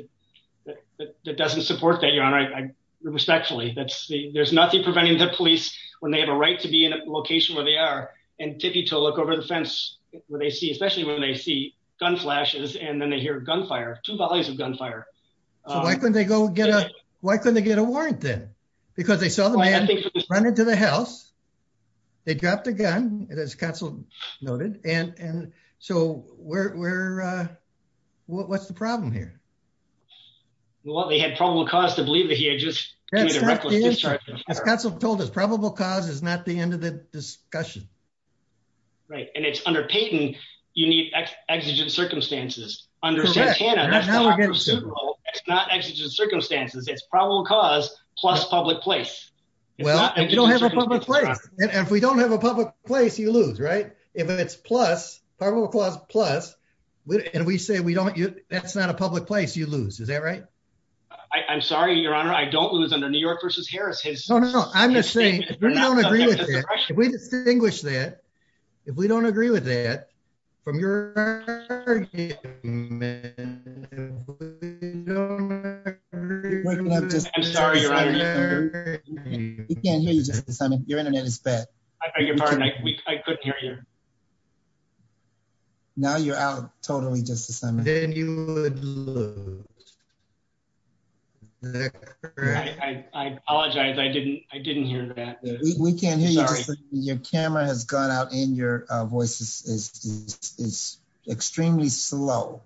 that doesn't support that your honor I respectfully that's the there's nothing preventing the police, when they have a right to be in a location where they are, and to be to look over the fence, where they see especially when they see gun flashes and then they hear gunfire to values of gunfire. Why couldn't they go get a, why couldn't they get a warrant then, because they saw the man running to the house. They dropped a gun, and as Council noted, and so we're. What's the problem here. Well they had probable cause to believe that he had just told us probable cause is not the end of the discussion. Right, and it's under Peyton, you need exigent circumstances under Santana. It's not exigent circumstances it's probable cause, plus public place. Well, if you don't have a public place, and if we don't have a public place you lose right, if it's plus probable cause plus. And we say we don't you, that's not a public place you lose is that right. I'm sorry, Your Honor, I don't lose under New York versus Harris. No, no, no, I'm just saying, we don't agree with that. If we distinguish that, if we don't agree with that, from your argument, we don't agree with that. I'm sorry Your Honor. We can't hear you Justice Simon, your internet is bad. I beg your pardon, I couldn't hear you. Now you're out totally Justice Simon. And then you would lose. I apologize I didn't, I didn't hear that. We can't hear you. Your camera has gone out in your voices is extremely slow.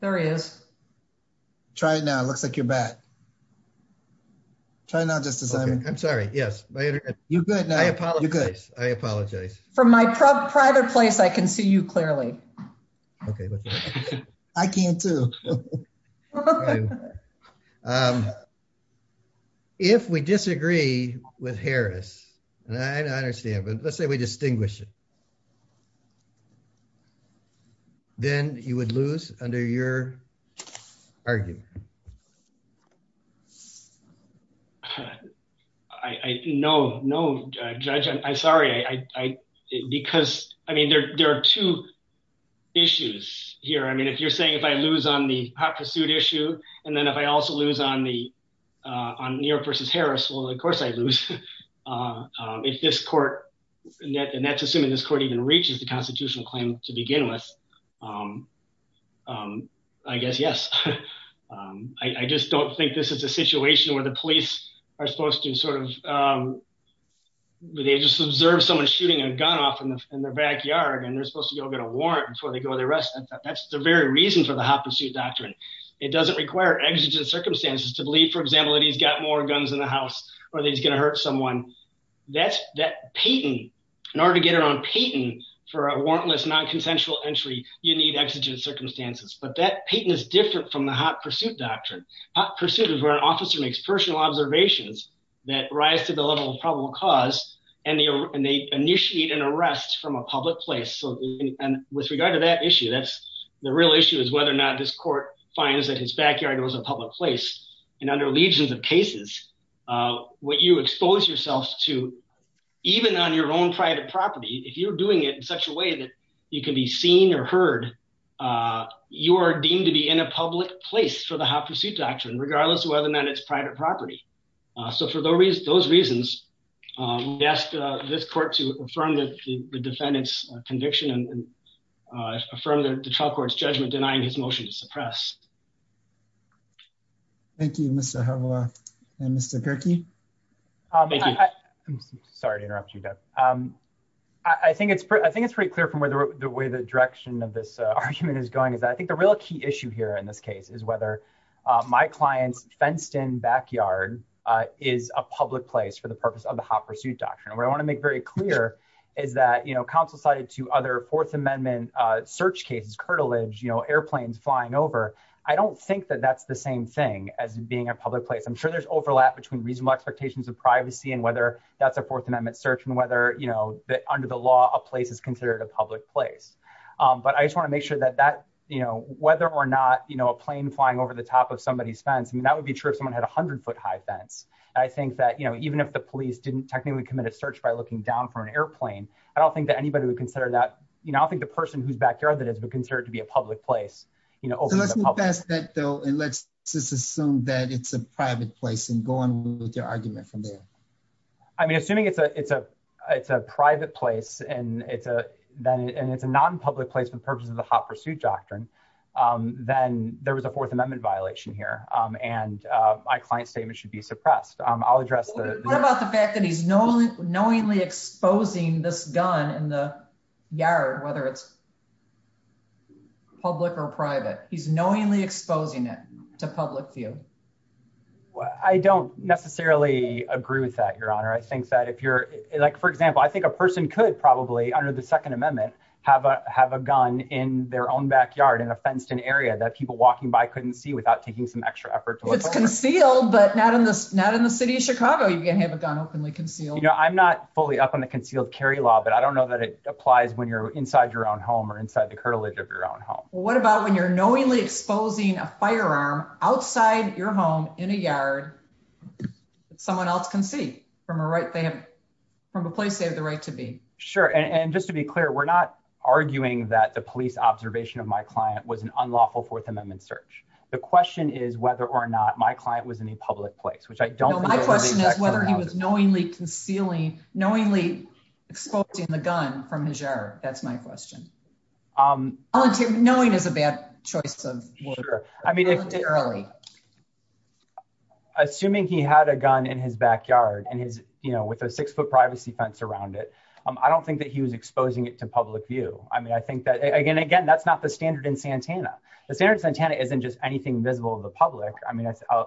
There is. Try it now it looks like you're back. Try now Justice Simon. I'm sorry, yes, my internet. You're good now. I apologize. I apologize. From my private place I can see you clearly. Okay. I can too. If we disagree with Harris, and I understand but let's say we distinguish it. Then you would lose under your argument. I know no judge I'm sorry I because I mean there are two issues here I mean if you're saying if I lose on the hot pursuit issue. And then if I also lose on the on New York versus Harris well of course I lose. If this court. And that's assuming this court even reaches the constitutional claim to begin with. I guess yes. I just don't think this is a situation where the police are supposed to sort of. They just observe someone shooting a gun off in the backyard and they're supposed to go get a warrant before they go the rest. That's the very reason for the hot pursuit doctrine. It doesn't require exigent circumstances to believe for example that he's got more guns in the house, or he's going to hurt someone. That's that Peyton in order to get it on Peyton for a warrantless non consensual entry, you need exigent circumstances but that Peyton is different from the hot pursuit doctrine pursuit of our officer makes personal observations that rise to the level of probable cause, and they initiate an arrest from a public place so with regard to that issue that's the real issue is whether or not this court finds that his backyard was a public place. And under legions of cases, what you expose yourself to, even on your own private property if you're doing it in such a way that you can be seen or heard. You are deemed to be in a public place for the hot pursuit doctrine regardless of whether or not it's private property. So for those reasons, those reasons. Yes, this court to affirm that the defendants conviction and from the trial courts judgment denying his motion to suppress. Thank you, Mr. Mr. Thank you. Sorry to interrupt you. I think it's pretty I think it's pretty clear from where the way the direction of this argument is going is I think the real key issue here in this case is whether my clients fenced in backyard is a public place for the purpose of the hot pursuit doctrine where I want to make very clear is that you know counsel cited to other Fourth Amendment search cases cartilage you know airplanes flying over. I don't think that that's the same thing as being a public place I'm sure there's overlap between reasonable expectations of privacy and whether that's a Fourth Amendment search and whether you know that under the law, a place is considered a public place. But I just want to make sure that that, you know, whether or not you know a plane flying over the top of somebody's fence and that would be true if someone had 100 foot high fence. I think that you know even if the police didn't technically commit a search by looking down from an airplane. I don't think that anybody would consider that, you know, I think the person who's backyard that has been considered to be a public place, you know, and it's a non public place for the purpose of the hot pursuit doctrine, then there was a Fourth Amendment violation here, and my client statement should be suppressed, I'll address the fact that he's knowing knowingly exposing this gun in the yard, whether it's public or private, he's knowingly exposing it to public view. Well, I don't necessarily agree with that your honor I think that if you're like for example I think a person could probably under the Second Amendment, have a have a gun in their own backyard in a fenced in area that people walking by couldn't see without taking some extra effort to conceal but not in this not in the city of Chicago you can have a gun openly concealed you know I'm not fully up on the concealed carry law but I don't know that it applies when you're inside your own home or inside the cartilage of your own home. What about when you're knowingly exposing a firearm outside your home in a yard. Someone else can see from a right they have from a place they have the right to be sure and just to be clear, we're not arguing that the police observation of my client was an unlawful Fourth Amendment search. The question is whether or not my client was in a public place which I don't know my question is whether he was knowingly concealing knowingly exposing the gun from his air, that's my question. I'm going to knowing is a bad choice of water. I mean, assuming he had a gun in his backyard and his, you know, with a six foot privacy fence around it. I don't think that he was exposing it to public view, I mean I think that again again that's not the standard in Santana, the standard Santana isn't just anything visible to the public. I mean, I,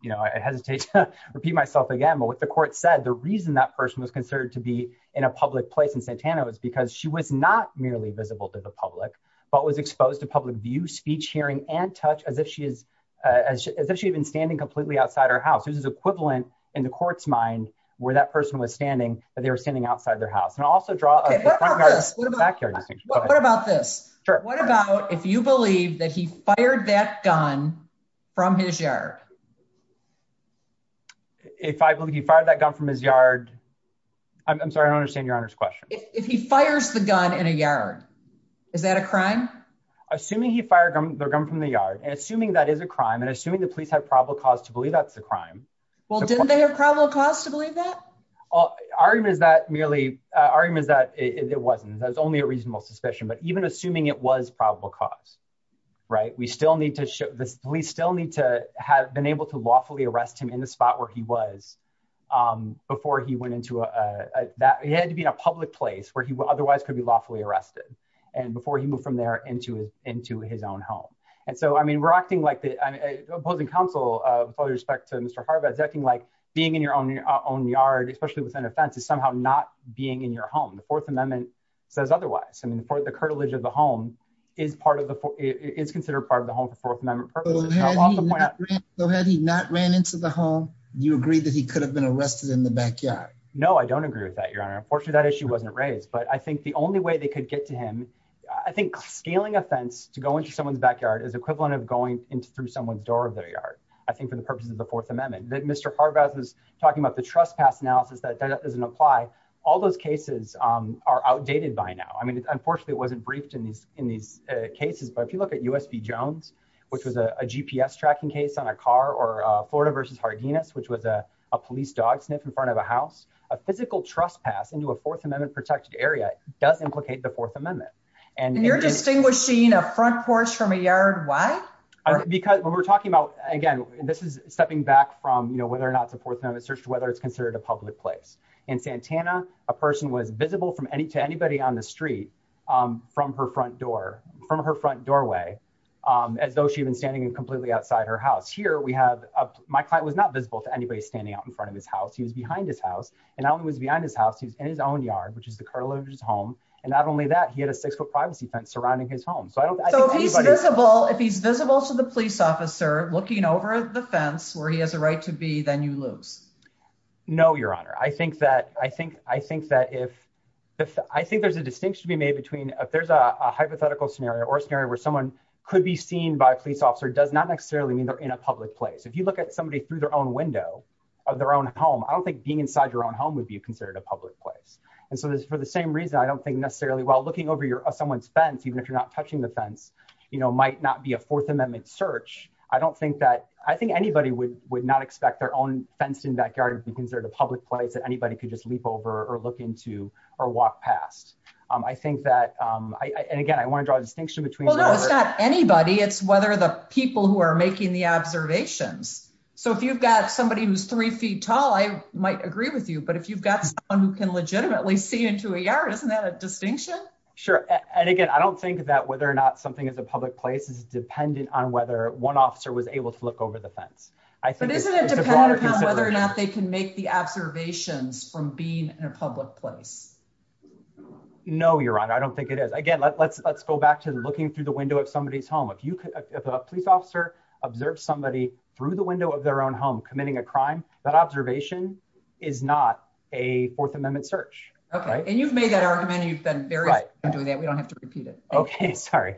you know, I hesitate to repeat myself again but what the court said the reason that person was considered to be in a public place in Santana was because she was not merely visible to the public, but was exposed to public view speech hearing and touch as if she is as if she had been standing completely outside our house is equivalent in the court's mind, where that person was standing, but they were standing outside their house and also draw. What about this. What about if you believe that he fired that gun from his yard. If I believe you fired that gun from his yard. I'm sorry I don't understand your honor's question, if he fires the gun in a yard. Is that a crime. Assuming he fired their gun from the yard and assuming that is a crime and assuming the police have probable cause to believe that's a crime. Well didn't they have probable cause to believe that. Well, our argument is that merely argument is that it wasn't that's only a reasonable suspicion but even assuming it was probable cause. Right, we still need to show this, we still need to have been able to lawfully arrest him in the spot where he was before he went into that he had to be in a public place where he would otherwise could be lawfully arrested. And before he moved from there into his, into his own home. And so I mean we're acting like the opposing counsel, with all due respect to Mr Harbis acting like being in your own, your own yard, especially within a fence is somehow not being in your home the Fourth Amendment says otherwise I mean for the curtilage of the home is part of the is considered part of the home for Fourth Amendment. So had he not ran into the home. You agree that he could have been arrested in the backyard. No, I don't agree with that your honor unfortunately that issue wasn't raised but I think the only way they could get to him. I think scaling offense to go into someone's backyard is equivalent of going into through someone's door of their yard. I think for the purposes of the Fourth Amendment that Mr Harbis was talking about the trespass analysis that doesn't apply. All those cases are outdated by now I mean unfortunately it wasn't briefed in these, in these cases but if you look at USB Jones, which was a GPS tracking case on a car or Florida versus hardiness which was a police dog sniff in front of a house, a physical trespass into a Fourth Amendment protected area does implicate the Fourth Amendment, and you're distinguishing a front porch from a yard. Why, because when we're talking about, again, this is stepping back from you know whether or not the Fourth Amendment search whether it's considered a public place in Santana, a person was visible from any to anybody on the street from her front door from her front doorway, as though she's been standing completely outside her house here we have my client was not visible to anybody standing out in front of his house he was behind his house, and I was behind his house he's in his own yard which is the curlers home, and not only that he had a six foot privacy fence surrounding his home so I don't know if he's visible to the police officer looking over the fence where he has a right to be then you lose. No, Your Honor, I think that I think, I think that if I think there's a distinction to be made between if there's a hypothetical scenario or scenario where someone could be seen by a police officer does not necessarily mean they're in a public place if you look at somebody through their own window of their own home I don't think being inside your own home would be considered a public place. And so this is for the same reason I don't think necessarily while looking over your someone's fence even if you're not touching the fence, you know, I don't think that I think anybody would would not expect their own fence in backyard because they're the public place that anybody could just leap over or look into or walk past. I think that I and again I want to draw a distinction between anybody it's whether the people who are making the observations. So if you've got somebody who's three feet tall I might agree with you but if you've got one who can legitimately see into a yard isn't that a distinction. Sure. And again, I don't think that whether or not something is a public place is dependent on whether one officer was able to look over the fence. I think they can make the observations from being in a public place. No, Your Honor, I don't think it is again let's let's go back to looking through the window of somebody's home if you could have a police officer observed somebody through the window of their own home committing a crime that observation is not a Fourth Amendment search. Okay. And you've made that argument you've been doing that we don't have to repeat it. Okay, sorry.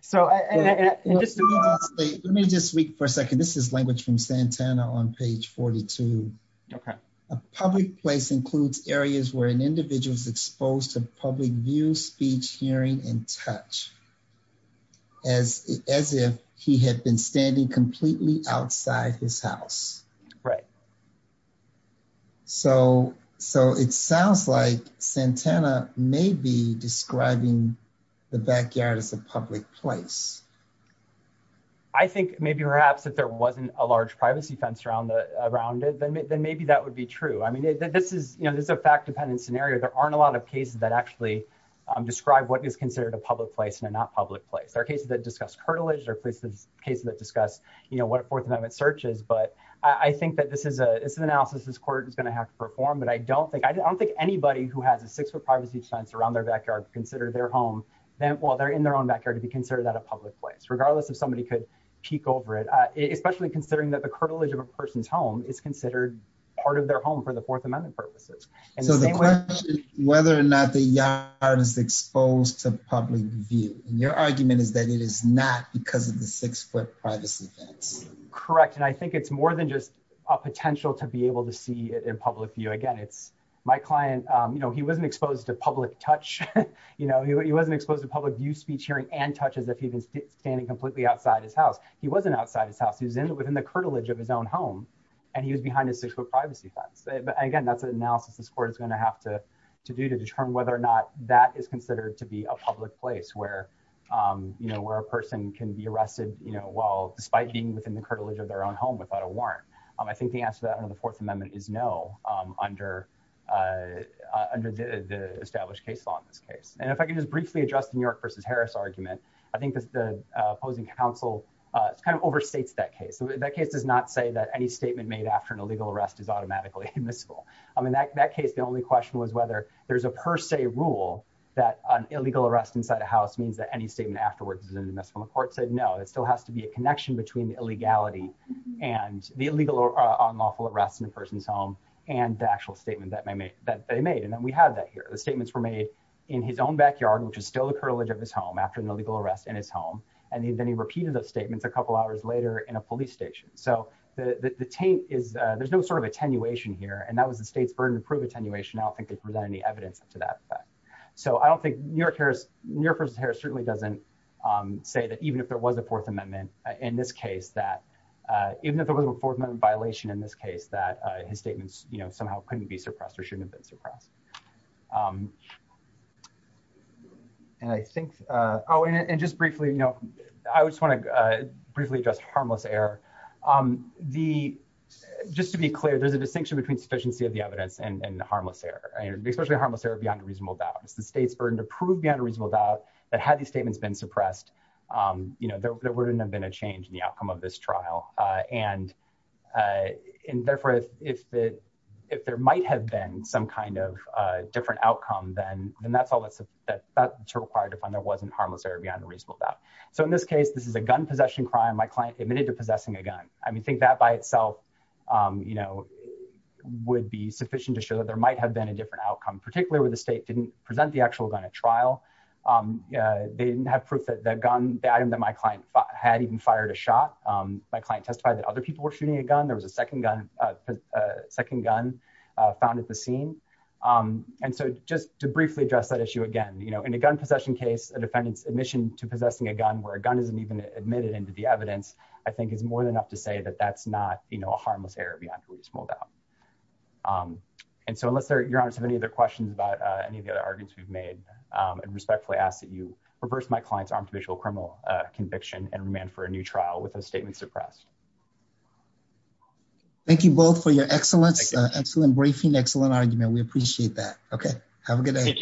So, let me just speak for a second. This is language from Santana on page 42. Okay. A public place includes areas where an individual is exposed to public view speech hearing and touch. As, as if he had been standing completely outside his house. Right. So, so it sounds like Santana may be describing the backyard as a public place. I think maybe perhaps if there wasn't a large privacy fence around the around it then maybe then maybe that would be true I mean this is, you know, this is a fact dependent scenario there aren't a lot of cases that actually describe what is considered a public place they're not public place there are cases that discuss cartilage or places cases that discuss, you know what a Fourth Amendment searches but I think that this is a it's an analysis this court is going to have to perform but I don't think I don't think anybody who has a six foot privacy fence around their backyard consider their home, then while they're in their own backyard to be considered that a public place regardless of somebody could peek over it, especially considering that the cartilage of a person's home is considered part of their home for the Fourth Amendment. I was exposed to public view, your argument is that it is not because of the six foot privacy fence. Correct. And I think it's more than just a potential to be able to see it in public view again it's my client, you know he wasn't exposed to public touch. You know he wasn't exposed to public view speech hearing and touches if he's standing completely outside his house. He wasn't outside his house he's in within the cartilage of his own home, and he was behind a six foot privacy fence. Again, that's an analysis this court is going to have to do to determine whether or not that is considered to be a public place where, you know, where a person can be arrested, you know, well, despite being within the cartilage of their own home without a warrant. I think the answer that under the Fourth Amendment is no. Under, under the established case law in this case, and if I can just briefly adjust the New York versus Harris argument. I think the opposing counsel kind of overstates that case that case does not say that any statement made after an illegal arrest is automatically admissible. I mean that case the only question was whether there's a per se rule that an illegal arrest inside a house means that any statement afterwards is in the mess from the court said no it still has to be a connection between the legality and the illegal or unlawful arrest in a person's home, and the actual statement that may make that they made and then we have that here the statements were made in his own backyard which is still the cartilage of his home after an illegal arrest in his home, and he then he repeated those statements a couple hours later in a police station so that the tape is, there's no sort of attenuation here and that was the state's burden to prove attenuation I don't think they present any evidence to that. So I don't think New Yorkers New Yorkers hair certainly doesn't say that even if there was a Fourth Amendment. In this case that even if there was a fourth amendment violation in this case that his statements, you know, somehow couldn't be suppressed or shouldn't have been suppressed. And I think. Oh, and just briefly, you know, I just want to briefly just harmless error. The. Just to be clear, there's a distinction between sufficiency of the evidence and harmless error, especially harmless error beyond a reasonable doubt it's the state's burden to prove beyond a reasonable doubt that had the statements been suppressed. You know, there wouldn't have been a change in the outcome of this trial, and in there for if, if, if there might have been some kind of different outcome then then that's all that's required to find there wasn't harmless error beyond a reasonable doubt. So in this case, this is a gun possession crime my client admitted to possessing a gun. I mean think that by itself. You know, would be sufficient to show that there might have been a different outcome, particularly with the state didn't present the actual gun at trial. They didn't have proof that that gun that item that my client had even fired a shot my client testified that other people were shooting a gun, there was a second gun. found at the scene. And so, just to briefly address that issue again you know in a gun possession case a defendant's admission to possessing a gun where a gun isn't even admitted into the evidence, I think is more than enough to say that that's not, you know, a harmless error beyond a reasonable doubt. And so unless they're you're honest have any other questions about any of the other arguments we've made, and respectfully ask that you reverse my clients armed visual criminal conviction and remand for a new trial with a statement suppressed. Thank you both for your excellence excellent briefing excellent argument we appreciate that. Okay, have a good day.